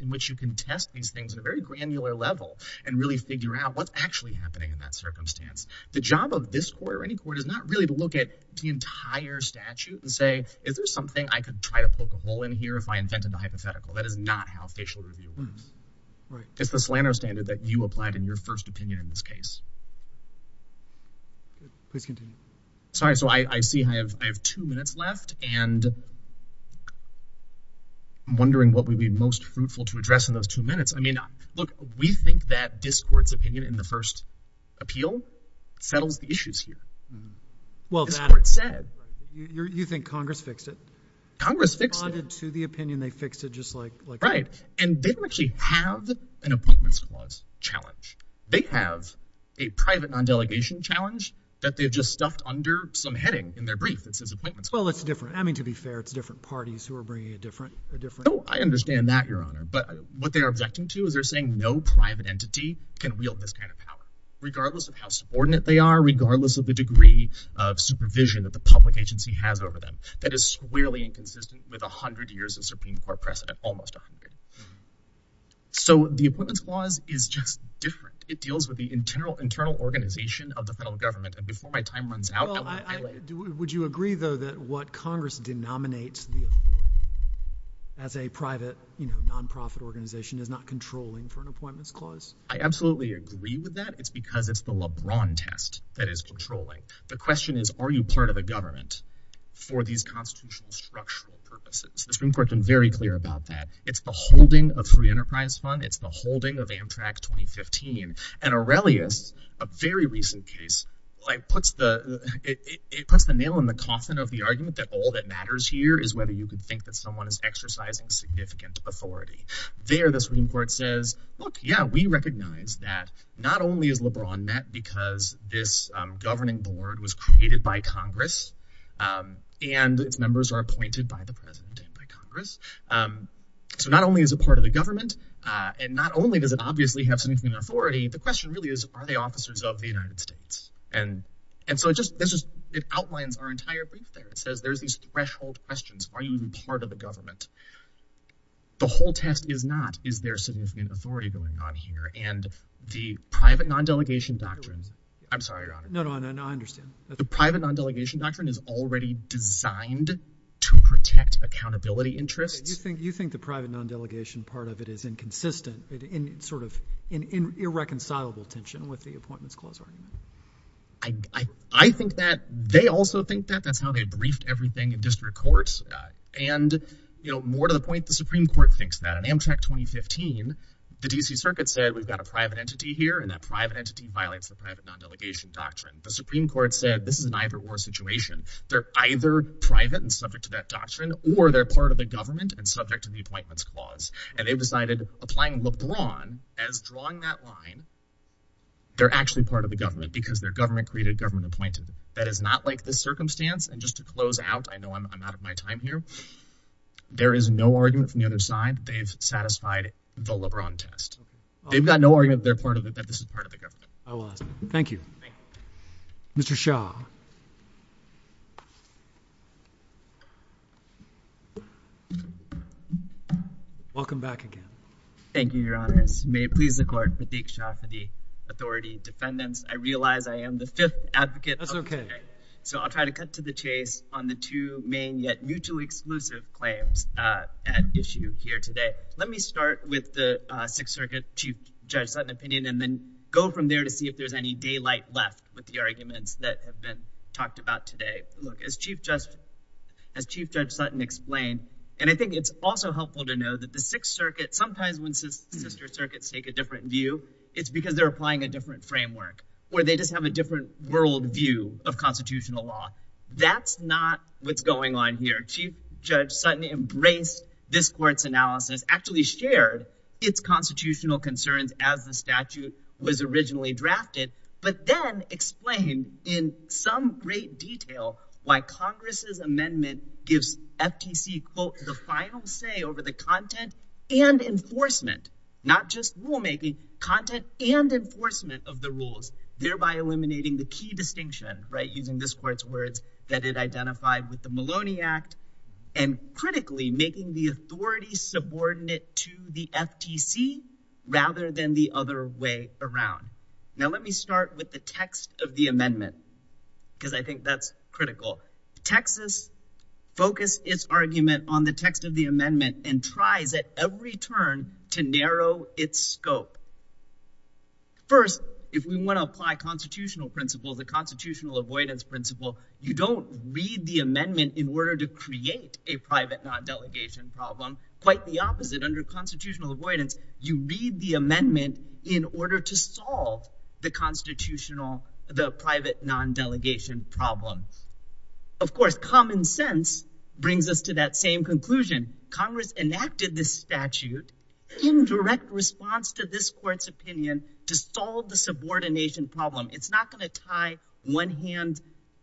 in which you can test these things at a very granular level and really figure out what's actually happening in that circumstance. The job of this court or any court is not really to look at the entire statute and say, is there something I could try to poke a hole in here if I invented the hypothetical? That is not how facial review works. Right. It's the slander standard that you applied in your first opinion in this case. Please continue. Sorry. So I see I have two minutes left, and I'm wondering what would be most fruitful to address in those two minutes. I mean, look, we think that this court's opinion in the first appeal settles the issues here. Well, that's what it said. You think Congress fixed it? Congress fixed it. Responded to the opinion, they fixed it just like that. Right. And they don't actually have an appointments clause challenge. They have a private non-delegation challenge that they've just stuffed under some heading in their brief that says appointments. Well, it's different. I mean, to be fair, it's different parties who are bringing a different a different... No, I understand that, Your Honor. But what they are objecting to is they're saying no private entity can wield this kind of power, regardless of how subordinate they are, regardless of the degree of supervision that the public agency has over them. That is squarely inconsistent with 100 years of Supreme Court precedent, almost 100. So the appointments clause is just different. It deals with the internal organization of the federal government. And before my time runs out... Well, would you agree, though, that what Congress denominates the authority as a private, you know, non-profit organization is not controlling for an appointments clause? I absolutely agree with that. It's because it's the LeBron test that is controlling. The question is, are you part of the government for these constitutional structural purposes? The Supreme Court has been very clear about that. It's the holding of Free Enterprise Fund. It's the holding of Amtrak 2015. And Aurelius, a very recent case, it puts the nail in the coffin of the argument that all that matters here is whether you could think that someone is exercising significant authority. There, the Supreme Court says, look, yeah, we recognize that not only is LeBron met because this governing board was created by Congress. So not only is it part of the government, and not only does it obviously have significant authority, the question really is, are they officers of the United States? And so it outlines our entire brief there. It says there's these threshold questions. Are you even part of the government? The whole test is not, is there significant authority going on here? And the private non-delegation doctrine... I'm sorry, Your Honor. No, no, I understand. The private non-delegation doctrine is already designed to protect accountability interests. You think the private non-delegation part of it is inconsistent, sort of an irreconcilable tension with the appointments clause, right? I think that. They also think that. That's how they briefed everything in district courts. And more to the point, the Supreme Court thinks that. On Amtrak 2015, the D.C. Circuit said, we've got a private entity here, and that private entity violates the private non-delegation doctrine. The Supreme Court said, this is an either-or situation. They're either private and subject to that doctrine, or they're part of the government and subject to the appointments clause. And they've decided, applying LeBron as drawing that line, they're actually part of the government because their government created government appointed. That is not like this circumstance. And just to close out, I know I'm out of my time here. There is no argument from the other side. They've satisfied the LeBron test. They've got no argument that they're part of it, that this is part of the government. I will ask. Thank you. Mr. Shah. Welcome back again. Thank you, Your Honors. May it please the Court, Pratik Shah for the authority. Defendants, I realize I am the fifth advocate. That's okay. So I'll try to cut to the chase on the two main, yet mutually exclusive claims at issue here today. Let me start with the Sixth Circuit Chief Judge Sutton opinion, and then go from there to see if there's any daylight left with the arguments that have been talked about today. Look, as Chief Judge Sutton explained, and I think it's also helpful to know that the Sixth Circuit, sometimes when sister circuits take a different view, it's because they're applying a different framework, or they just have a different worldview of constitutional law. That's not what's going on here. Chief Judge Sutton embraced this court's analysis, actually shared its constitutional concerns as the statute was originally drafted, but then explained in some great detail why Congress's amendment gives FTC, quote, the final say over the content and enforcement, not just rulemaking, content and enforcement of the rules, thereby eliminating the key distinction, right, using this court's words, that it identified with the Maloney Act, and critically, making the authority subordinate to the FTC, rather than the other way around. Now, let me start with the text of the amendment, because I think that's critical. Texas focused its argument on the text of the amendment and tries at every turn to narrow its scope. First, if we want to apply constitutional principles, the constitutional avoidance principle, you don't read the amendment in order to create a private non-delegation problem. Quite the opposite, under constitutional avoidance, you read the amendment in order to solve the constitutional, the private non-delegation problem. Of course, common sense brings us to that same conclusion. Congress enacted this statute in direct response to this court's opinion to solve the subordination problem. It's not going to tie one hand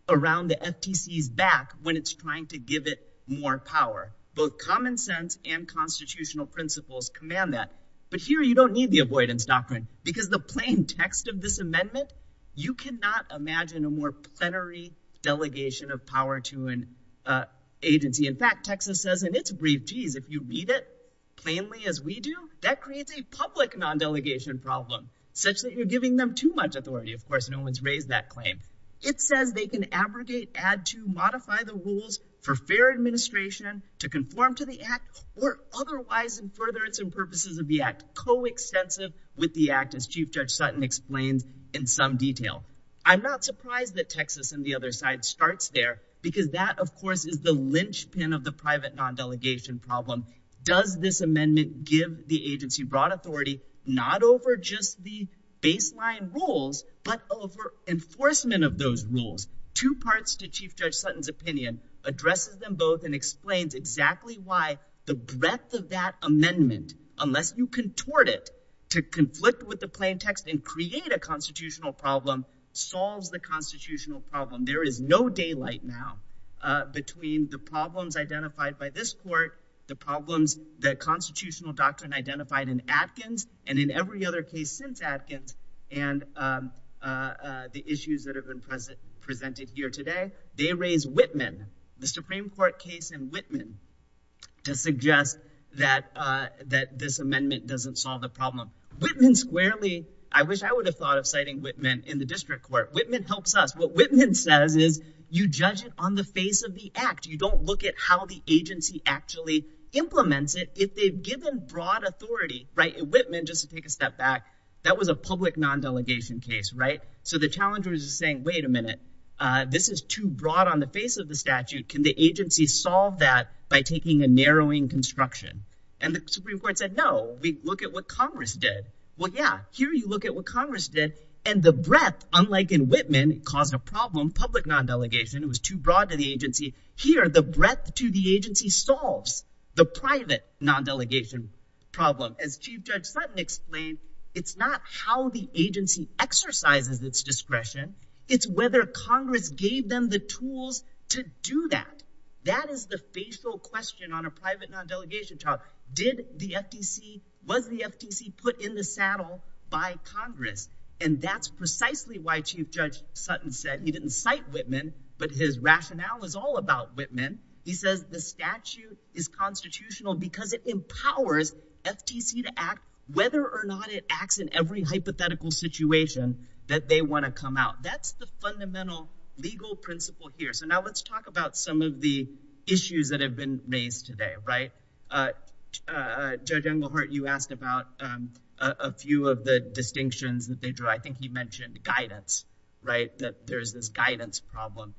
around the FTC's back when it's trying to give it more power. Both common sense and constitutional principles command that. But here, you don't need the avoidance doctrine, because the plain text of this amendment, you cannot imagine a more plenary delegation of power to an agency. In fact, Texas says in its brief, geez, if you read it plainly as we do, that creates a public non-delegation problem, such that you're giving them too much authority. No one's raised that claim. It says they can abrogate, add to, modify the rules for fair administration to conform to the act, or otherwise, in furtherance and purposes of the act, co-extensive with the act, as Chief Judge Sutton explains in some detail. I'm not surprised that Texas and the other side starts there, because that, of course, is the linchpin of the private non-delegation problem. Does this amendment give the agency broad authority, not over just the enforcement of those rules? Two parts to Chief Judge Sutton's opinion addresses them both and explains exactly why the breadth of that amendment, unless you contort it to conflict with the plain text and create a constitutional problem, solves the constitutional problem. There is no daylight now between the problems identified by this court, the problems that constitutional doctrine identified in Atkins, and in every other case since Atkins, and the issues that have been presented here today. They raise Whitman, the Supreme Court case in Whitman, to suggest that this amendment doesn't solve the problem. Whitman squarely, I wish I would have thought of citing Whitman in the district court. Whitman helps us. What Whitman says is, you judge it on the face of the act. You don't look at how the agency actually implements it if they've given broad authority. In Whitman, just to take a step back, that was a public non-delegation case. The challenger is saying, wait a minute, this is too broad on the face of the statute. Can the agency solve that by taking a narrowing construction? The Supreme Court said, no, we look at what Congress did. Well, yeah, here you look at what Congress did, and the breadth, unlike in Whitman, caused a problem, public non-delegation, it was too broad to the agency. Here, the breadth to the agency solves the private non-delegation problem. As Chief Judge Sutton explained, it's not how the agency exercises its discretion, it's whether Congress gave them the tools to do that. That is the facial question on a private non-delegation trial. Was the FTC put in the saddle by Congress? That's precisely why Chief Judge Sutton said he didn't cite Whitman, but his rationale is all about Whitman. He says the statute is constitutional because it empowers FTC to act whether or not it acts in every hypothetical situation that they want to come out. That's the fundamental legal principle here. Now, let's talk about some of the issues that few of the distinctions that they drew. I think he mentioned guidance, that there's this guidance problem.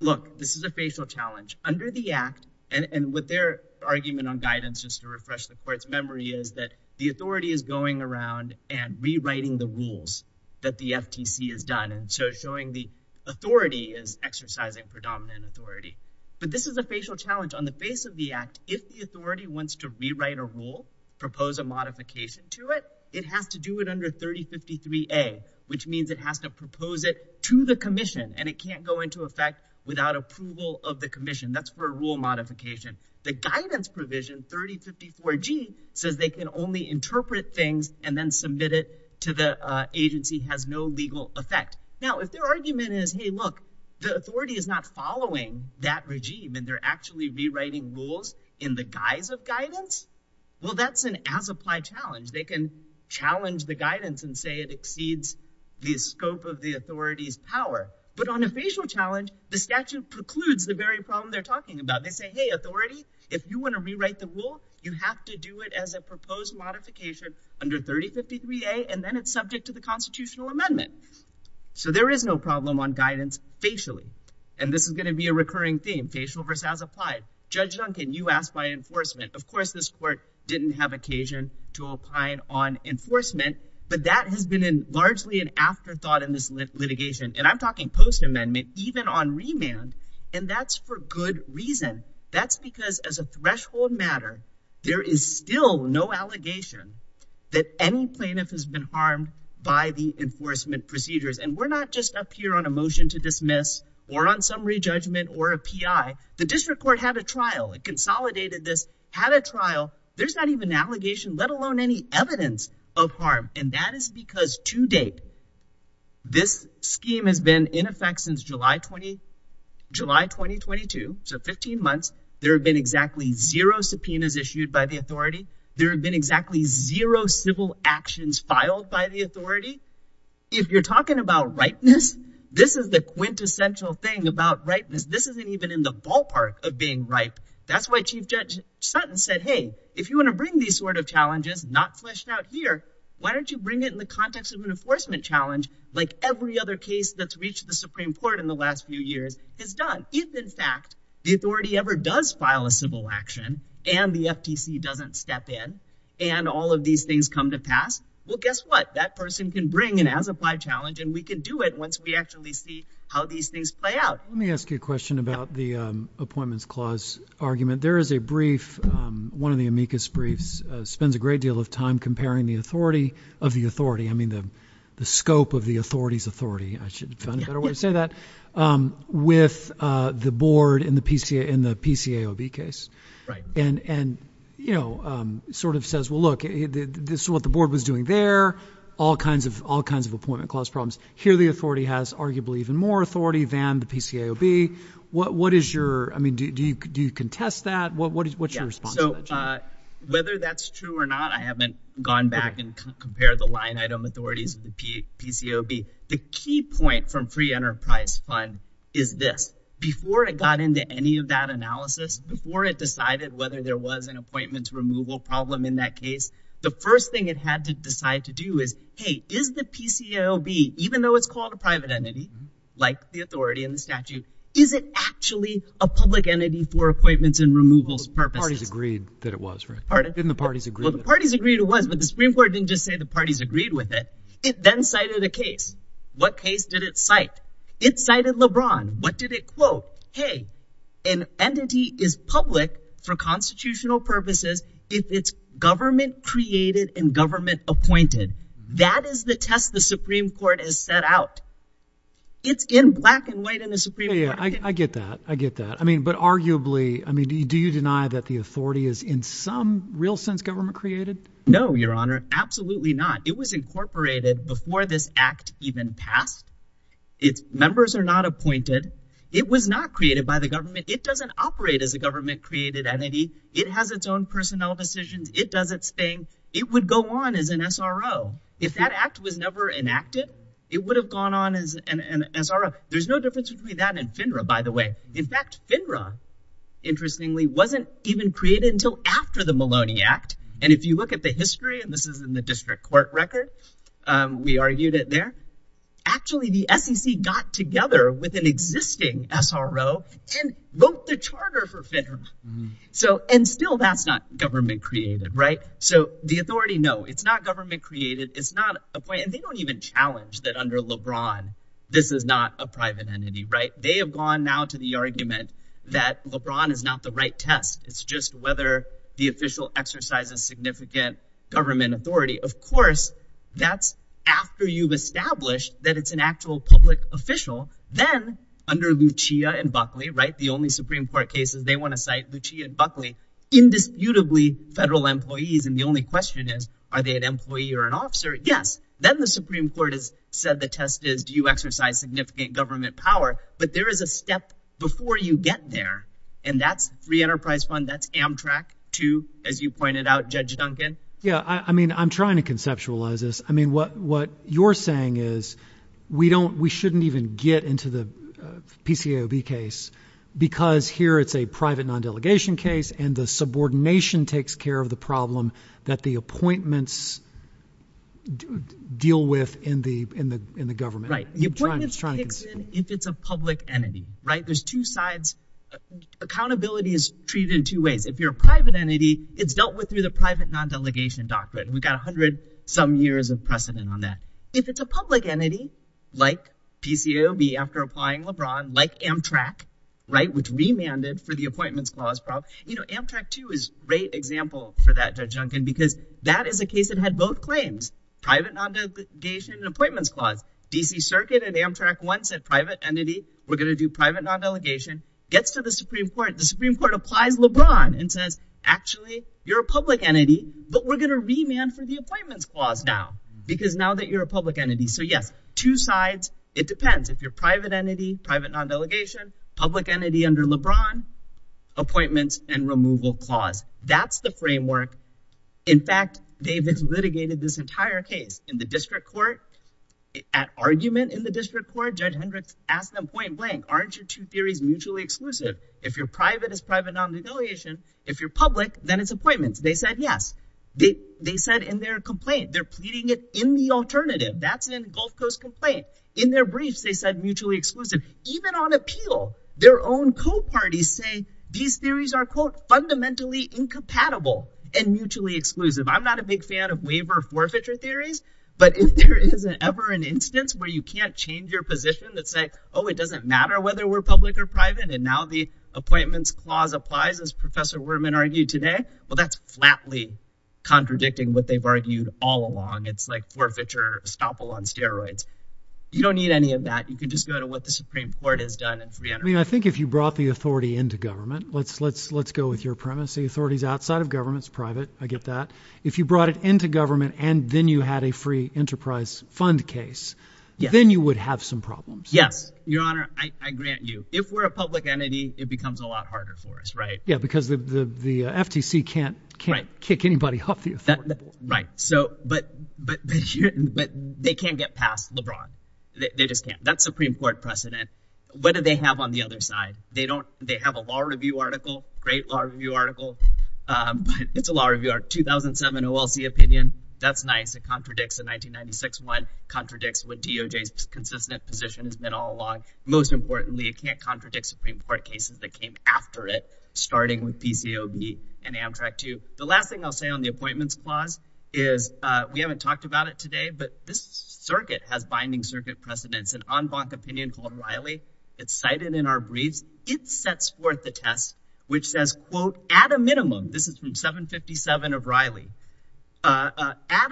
Look, this is a facial challenge. Under the act, and with their argument on guidance, just to refresh the court's memory, is that the authority is going around and rewriting the rules that the FTC has done, and so showing the authority is exercising predominant authority. But this is a facial challenge on the face of the act. If the authority wants to rewrite a rule, propose a modification to it, it has to do it under 3053A, which means it has to propose it to the commission, and it can't go into effect without approval of the commission. That's for a rule modification. The guidance provision, 3054G, says they can only interpret things and then submit it to the agency, has no legal effect. Now, if their argument is, hey, look, the authority is not following that regime, and they're actually rewriting rules in the guise of an as-applied challenge, they can challenge the guidance and say it exceeds the scope of the authority's power. But on a facial challenge, the statute precludes the very problem they're talking about. They say, hey, authority, if you want to rewrite the rule, you have to do it as a proposed modification under 3053A, and then it's subject to the constitutional amendment. So there is no problem on guidance facially, and this is going to be a recurring theme, facial versus as-applied. Judge Duncan, you asked by enforcement. Of course, this court didn't have occasion to opine on enforcement, but that has been largely an afterthought in this litigation, and I'm talking post-amendment, even on remand, and that's for good reason. That's because as a threshold matter, there is still no allegation that any plaintiff has been harmed by the enforcement procedures. And we're not just up here on a motion to dismiss or on re-judgment or a PI. The district court had a trial. It consolidated this, had a trial. There's not even an allegation, let alone any evidence of harm, and that is because to date, this scheme has been in effect since July 2022, so 15 months. There have been exactly zero subpoenas issued by the authority. There have been exactly zero civil actions filed by the authority. If you're talking about ripeness, this is the quintessential thing about ripeness. This isn't even in the ballpark of being ripe. That's why Chief Judge Sutton said, hey, if you want to bring these sort of challenges not fleshed out here, why don't you bring it in the context of an enforcement challenge like every other case that's reached the Supreme Court in the last few years has done? If, in fact, the authority ever does file a civil action and the FTC doesn't step in and all of these things come to pass, well, guess what? That person can bring an as-applied challenge and we can do it once we actually see how these things play out. Let me ask you a question about the Appointments Clause argument. There is a brief, one of the amicus briefs, spends a great deal of time comparing the authority of the authority, I mean the scope of the authority's authority, I should find a better way to say that, with the board in the PCAOB case, and sort of says, well, look, this is what the board was doing there, all kinds of Appointment Clause problems. Here the authority has arguably even more authority than the PCAOB. What is your, I mean, do you contest that? What's your response to that, Jim? Whether that's true or not, I haven't gone back and compared the line item authorities of the PCAOB. The key point from Free Enterprise Fund is this. Before it got into any of that analysis, before it decided whether there was an appointments removal problem in that case, the first thing it had to decide to do is, hey, is the PCAOB, even though it's called a private entity, like the authority and the statute, is it actually a public entity for appointments and removals purposes? The parties agreed that it was, right? Pardon? Didn't the parties agree? Well, the parties agreed it was, but the Supreme Court didn't just say the parties agreed with it. It then cited a case. What case did it cite? It cited LeBron. What did it quote? Hey, an entity is public for constitutional purposes if it's government created and government appointed. That is the test the Supreme Court has set out. It's in black and white in the Supreme Court. Yeah, I get that. I get that. I mean, but arguably, I mean, do you deny that the authority is in some real sense government created? No, Your Honor. Absolutely not. It was incorporated before this act even passed. Members are not appointed. It was not created by the government. It doesn't operate as a government created entity. It has its own personnel decisions. It does its thing. It would go on as an SRO. If that act was never enacted, it would have gone on as an SRO. There's no difference between that and FINRA, by the way. In fact, FINRA, interestingly, wasn't even created until after the Maloney Act. And if you look at the history, and this is in the district court record, we argued it there. Actually, the SEC got together with an existing SRO and vote the charter for FINRA. So and still that's not government created, right? So the authority, no, it's not government created. It's not appointed. They don't even challenge that under LeBron, this is not a private entity, right? They have gone now to the argument that LeBron is not the right test. It's just whether the official exercises significant government authority. Of course, that's after you've established that it's an actual public official. Then, under Lucia and Buckley, right, the only Supreme Court cases they want to cite Lucia and Buckley, indisputably federal employees. And the only question is, are they an employee or an officer? Yes. Then the Supreme Court has said the test is, do you exercise significant government power? But there is a step before you get there. And that's Free Enterprise Fund. That's Amtrak to, as you pointed out, Judge Duncan. Yeah, I mean, I'm trying to conceptualize this. I mean, what what you're saying is we don't we shouldn't even get into the PCAOB case because here it's a private non-delegation case. And the subordination takes care of the problem that the appointments deal with in the in the in the government. Right. It's a public entity, right? There's two sides. Accountability is treated in two ways. If you're a private entity, it's dealt with through the private non-delegation doctrine. We've got 100 some years of precedent on that. If it's a public entity like PCAOB after applying LeBron, like Amtrak, right, which remanded for the appointments clause problem, you know, Amtrak too is a great example for that, Judge Duncan, because that is a case that had both claims, private non-delegation and appointments clause. DC Circuit and Amtrak once said private entity. We're going to do private non-delegation. Gets to the Supreme Court. The Supreme Court applies LeBron and says, actually, you're a public entity, but we're going to remand for the appointments clause now because now that you're a public entity. So, yes, two sides. It depends if you're private entity, private non-delegation, public entity under LeBron, appointments and removal clause. That's the framework. In fact, David's litigated this court. Judge Hendricks asked them point blank, aren't your two theories mutually exclusive? If you're private, it's private non-delegation. If you're public, then it's appointments. They said yes. They said in their complaint, they're pleading it in the alternative. That's in Gulf Coast complaint. In their briefs, they said mutually exclusive. Even on appeal, their own co-parties say these theories are quote, fundamentally incompatible and mutually exclusive. I'm not a big fan of waiver forfeiture theories, but if there is ever an instance where you can't your position that say, oh, it doesn't matter whether we're public or private. And now the appointments clause applies, as Professor Wurman argued today. Well, that's flatly contradicting what they've argued all along. It's like forfeiture estoppel on steroids. You don't need any of that. You can just go to what the Supreme Court has done. I mean, I think if you brought the authority into government, let's let's let's go with your premise. The authorities outside of government's private. I get that. If you brought it into and then you had a free enterprise fund case, then you would have some problems. Yes. Your Honor, I grant you if we're a public entity, it becomes a lot harder for us. Right. Yeah. Because the FTC can't kick anybody off the right. So but but but they can't get past LeBron. They just can't. That's Supreme Court precedent. What do they have on the other side? They don't they have a law review article, great law review article. It's a lot of your 2007 OLC opinion. That's nice. It contradicts the 1996 one, contradicts what DOJ's consistent position has been all along. Most importantly, it can't contradict Supreme Court cases that came after it, starting with PCOB and Amtrak, too. The last thing I'll say on the appointments clause is we haven't talked about it today, but this circuit has binding circuit precedents and en banc opinion called Riley. It's cited in our briefs. It sets forth the test, which says, quote, at a minimum, this is from 757 of Riley, at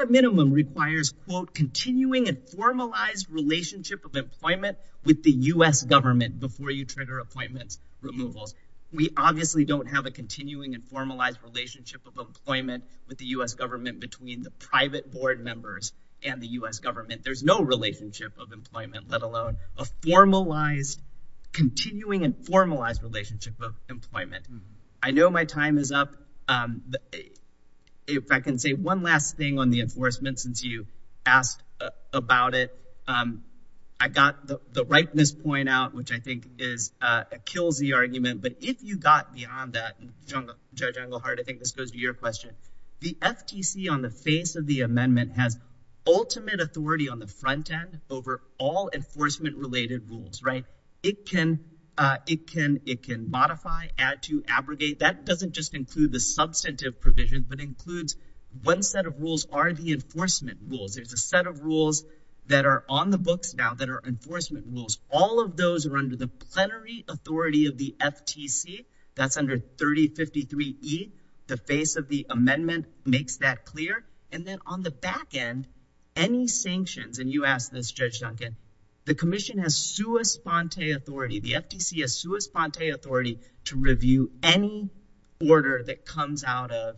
a minimum requires, quote, continuing and formalized relationship of employment with the U.S. government before you trigger appointments removals. We obviously don't have a continuing and formalized relationship of employment with the U.S. government between the private board members and the U.S. government. There's no relationship of employment, let alone a formalized, continuing and formalized relationship of employment. I know my time is up. If I can say one last thing on the enforcement, since you asked about it, I got the rightness point out, which I think kills the argument. But if you got beyond that, Judge Englehart, I think this goes to your question. The FTC on the face of the amendment has ultimate authority on the front end over all enforcement related rules. It can modify, add to, abrogate. That doesn't just include the substantive provisions, but includes one set of rules are the enforcement rules. There's a set of rules that are on the books now that are enforcement rules. All of those are under the plenary authority of the FTC. That's under 3053 E. The face of amendment makes that clear. And then on the back end, any sanctions, and you asked this, Judge Duncan, the commission has sua sponte authority. The FTC has sua sponte authority to review any order that comes out of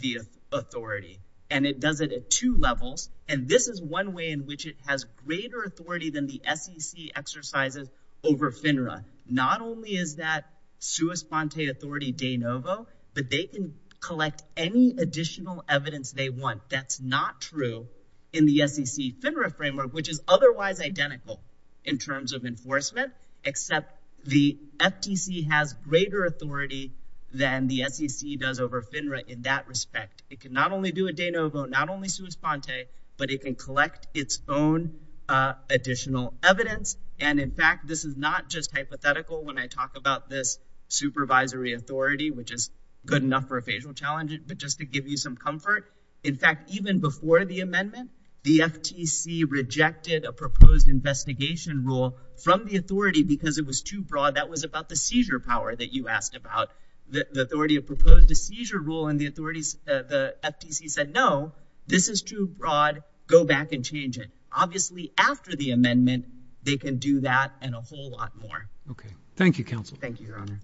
the authority, and it does it at two levels. And this is one way in which it has greater authority than the SEC exercises over FINRA. Not only is that sua sponte authority de novo, but they can collect any additional evidence they want. That's not true in the SEC FINRA framework, which is otherwise identical in terms of enforcement, except the FTC has greater authority than the SEC does over FINRA in that respect. It can not only do a de novo, not only sua sponte, but it can collect its own additional evidence. And in fact, this is not just hypothetical when I talk about this supervisory authority, which is good enough for a facial challenge, but just to give you some comfort. In fact, even before the amendment, the FTC rejected a proposed investigation rule from the authority because it was too broad. That was about the seizure power that you asked about. The authority of proposed a seizure rule and the authorities, the FTC said, no, this is too broad. Go back and change it. Obviously, after the amendment, they can do that and a whole lot more. Okay. Thank you, counsel. Thank you, Your Honor.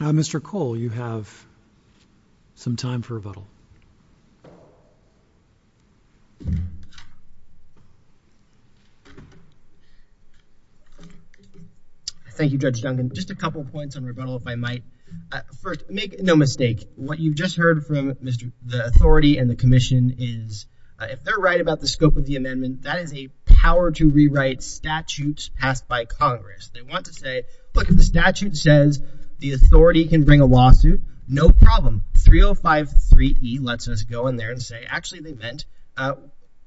Mr. Cole, you have some time for rebuttal. Thank you, Judge Duncan. Just a couple of points on rebuttal, if I might. First, make no mistake. What you've just heard from the authority and the commission is, if they're right about the scope of the amendment, that is a power to rewrite statutes passed by Congress. They want to say, look, if the statute says the authority can bring a lawsuit, no problem. 3053E lets us go in there and say, actually, they meant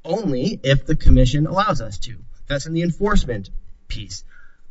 only if the commission allows us to. That's in the enforcement piece.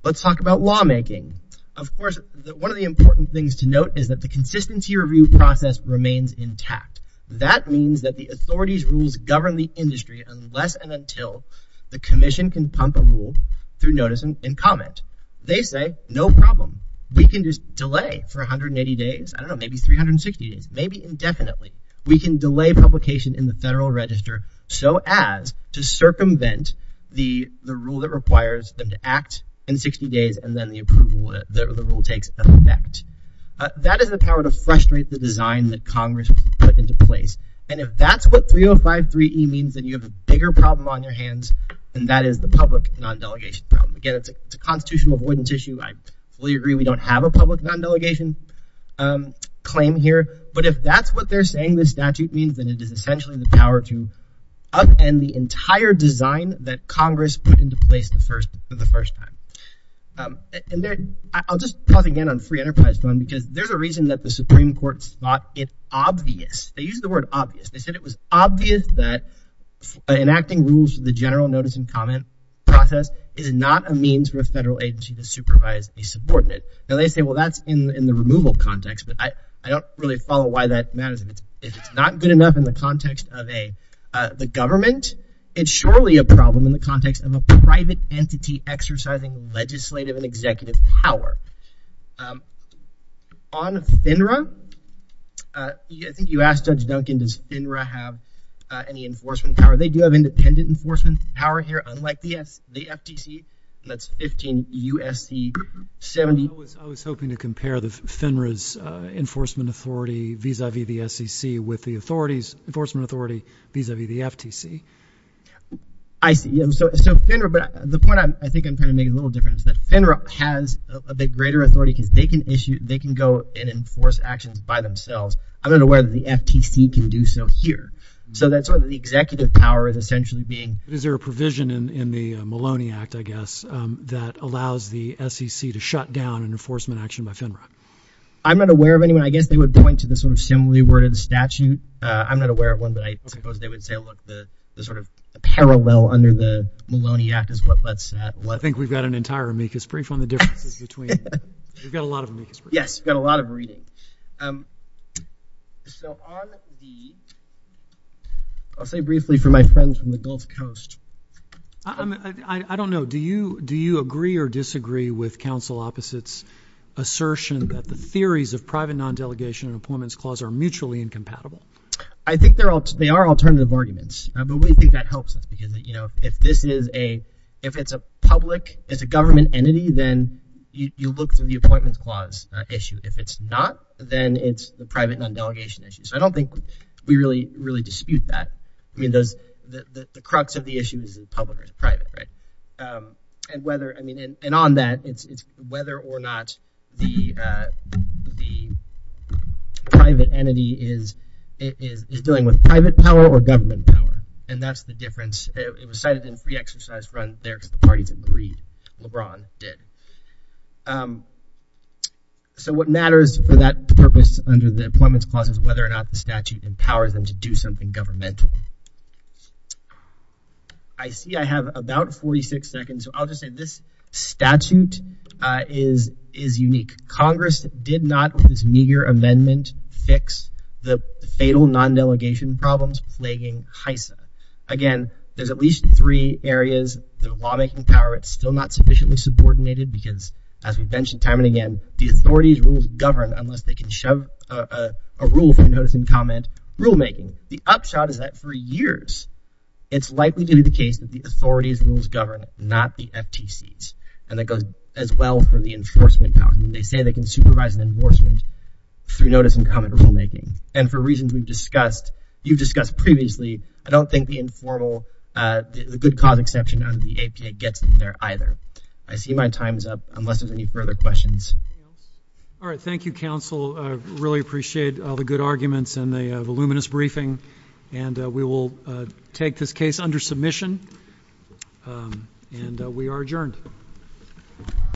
Let's talk about lawmaking. Of course, one of the important things to note is that the consistency review process remains intact. That means that the authority's rules govern the industry unless and until the commission can pump a rule through notice and comment. They say, no problem. We can just delay for 180 days, I don't know, maybe 360 days, maybe indefinitely. We can delay publication in the federal register so as to circumvent the rule that requires them to act in 60 days and then the approval, the rule takes effect. That is the power to frustrate the design that Congress put into place. And if that's what 3053E means, then you have a bigger problem on your hands, and that is the public non-delegation problem. Again, it's a constitutional avoidance issue. I fully agree we don't have a public non-delegation claim here, but if that's what they're saying this statute means, then it is essentially the power to upend the entire design that Congress put into place for the first time. I'll just pause again on free enterprise because there's a reason that the Supreme Court thought it obvious. They used the word obvious. They said it was obvious that enacting rules for the general notice and comment process is not a means for a federal agency to supervise a subordinate. Now they say, well, that's in the removal context, but I don't really follow why that matters. If it's not good enough in the context of the government, it's surely a problem in the context of a private entity exercising legislative and executive power. On FINRA, I think you asked Judge Duncan, does FINRA have any enforcement power? They do have independent enforcement power here, unlike the FTC, and that's 15 U.S.C. 70. I was hoping to compare FINRA's enforcement authority vis-a-vis the SEC with the vis-a-vis the FTC. I see. So FINRA, but the point I think I'm trying to make a little different is that FINRA has a bit greater authority because they can issue, they can go and enforce actions by themselves. I'm not aware that the FTC can do so here. So that's what the executive power is essentially being. Is there a provision in the Maloney Act, I guess, that allows the SEC to shut down an enforcement action by FINRA? I'm not aware of anyone. I guess they would point to the sort of similarly worded statute. I'm not aware of one, but I suppose they would say, look, the sort of parallel under the Maloney Act is what lets that. I think we've got an entire amicus brief on the differences between. We've got a lot of amicus briefs. Yes, we've got a lot of reading. So on the, I'll say briefly for my friends from the Gulf Coast. I don't know. Do you agree or disagree with counsel opposite's assertion that the theories of private non-delegation and appointments clause are mutually incompatible? I think they're all, they are alternative arguments, but we think that helps us because, you know, if this is a, if it's a public, it's a government entity, then you look through the appointments clause issue. If it's not, then it's the private non-delegation issue. So I don't think we really, really dispute that. I mean, those, the crux of the issue is public or private, right? And whether, I mean, and on that, it's whether or not the private entity is dealing with private power or government power. And that's the difference. It was cited in free exercise run there because the parties agreed. LeBron did. So what matters for that purpose under the appointments clause is whether or not the statute empowers them to do something governmental. I see. I have about 46 seconds. So I'll just say this statute is, is unique. Congress did not, with this meager amendment, fix the fatal non-delegation problems plaguing HISA. Again, there's at least three areas that are lawmaking power. It's still not sufficiently subordinated because as we've mentioned time and again, the authority's rules govern unless they can shove a rule from notice and comment rulemaking. The upshot is that for years, it's likely to be the case that the authority's rules govern, not the FTC's. And that goes as well for the enforcement power. They say they can supervise an enforcement through notice and comment rulemaking. And for reasons we've discussed, you've discussed previously, I don't think the informal, the good cause exception under the APA gets there either. I see my time is up unless there's any questions. All right. Thank you, counsel. I really appreciate all the good arguments and the voluminous briefing. And we will take this case under submission. And we are adjourned.